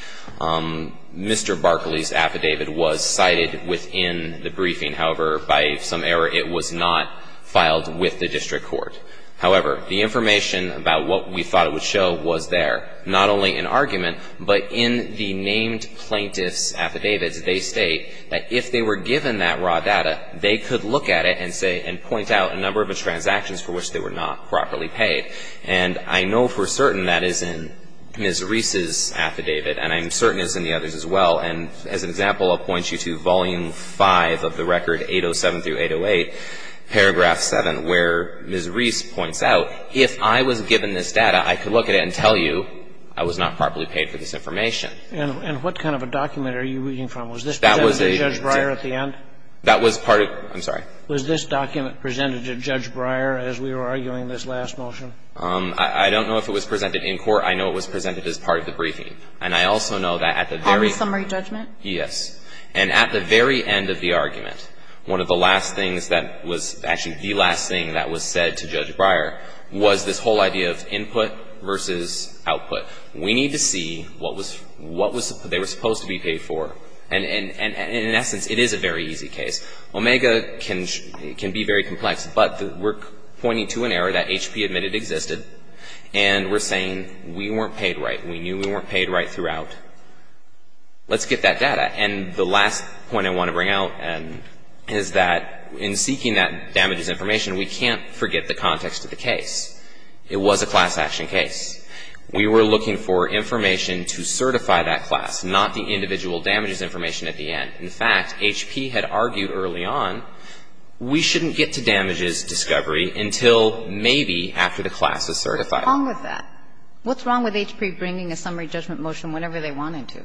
Mr. Barkley's affidavit was cited within the briefing. However, by some error, it was not filed with the district court. However, the information about what we thought it would show was there, not only in argument, but in the named plaintiff's affidavits, they state that if they were to point out a number of transactions for which they were not properly paid. And I know for certain that is in Ms. Reese's affidavit, and I'm certain it's in the others as well. And as an example, I'll point you to Volume 5 of the record, 807 through 808, Paragraph 7, where Ms. Reese points out, if I was given this data, I could look at it and tell you I was not properly paid for this information. And what kind of a document are you reading from? Was this presented to Judge Breyer at the end? That was part of it. I'm sorry. Was this document presented to Judge Breyer as we were arguing this last motion? I don't know if it was presented in court. I know it was presented as part of the briefing. And I also know that at the very end of the argument, one of the last things that was actually the last thing that was said to Judge Breyer was this whole idea of input versus output. We need to see what was they were supposed to be paid for. And in essence, it is a very easy case. Omega can be very complex, but we're pointing to an error that HP admitted existed, and we're saying we weren't paid right. We knew we weren't paid right throughout. Let's get that data. And the last point I want to bring out is that in seeking that damages information, we can't forget the context of the case. It was a class action case. We were looking for information to certify that class, not the individual damages information at the end. In fact, HP had argued early on, we shouldn't get to damages discovery until maybe after the class is certified. What's wrong with that? What's wrong with HP bringing a summary judgment motion whenever they wanted to?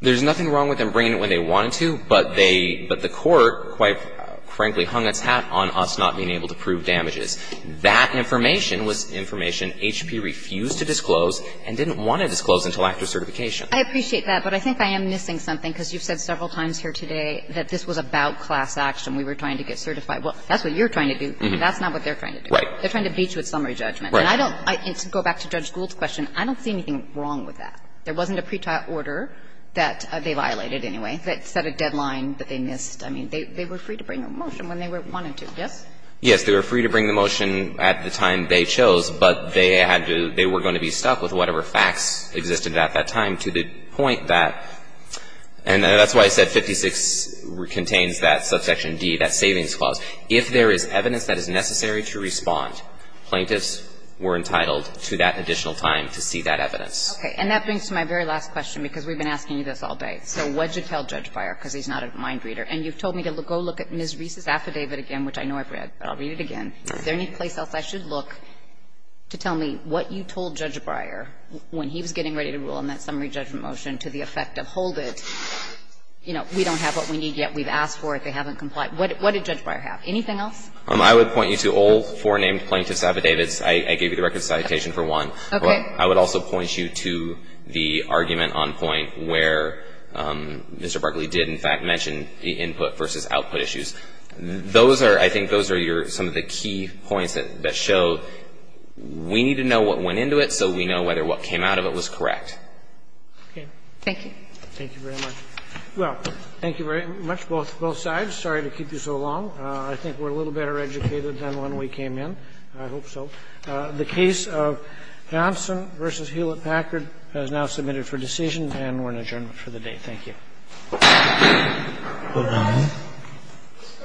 There's nothing wrong with them bringing it when they wanted to, but they – but the Court, quite frankly, hung its hat on us not being able to prove damages. That information was information HP refused to disclose and didn't want to disclose until after certification. I appreciate that, but I think I am missing something, because you've said several times here today that this was about class action. We were trying to get certified. Well, that's what you're trying to do. That's not what they're trying to do. Right. They're trying to beat you at summary judgment. Right. And I don't – and to go back to Judge Gould's question, I don't see anything wrong with that. There wasn't a pretrial order that they violated anyway that set a deadline that they missed. I mean, they were free to bring a motion when they wanted to. Yes. They were free to bring the motion at the time they chose, but they had to – they were going to be stuck with whatever facts existed at that time to the point that – and that's why I said 56 contains that subsection D, that savings clause. If there is evidence that is necessary to respond, plaintiffs were entitled to that additional time to see that evidence. Okay. And that brings me to my very last question, because we've been asking you this all day. So what did you tell Judge Beyer? Because he's not a mind reader. And you've told me to go look at Ms. Reese's affidavit again, which I know I've read, but I'll read it again. Is there any place else I should look to tell me what you told Judge Beyer when he was getting ready to rule on that summary judgment motion to the effect of hold it? You know, we don't have what we need yet. We've asked for it. They haven't complied. What did Judge Beyer have? Anything else? I would point you to all four named plaintiffs' affidavits. I gave you the record of citation for one. Okay. But I would also point you to the argument on point where Mr. Barkley did, in fact, mention the input versus output issues. Those are, I think those are your, some of the key points that show we need to know what went into it so we know whether what came out of it was correct. Okay. Thank you. Thank you very much. Well, thank you very much, both sides. Sorry to keep you so long. I think we're a little better educated than when we came in. I hope so. The case of Hansen v. Hewlett-Packard has now submitted for decision, and we're in adjournment for the day. Thank you. Thank you.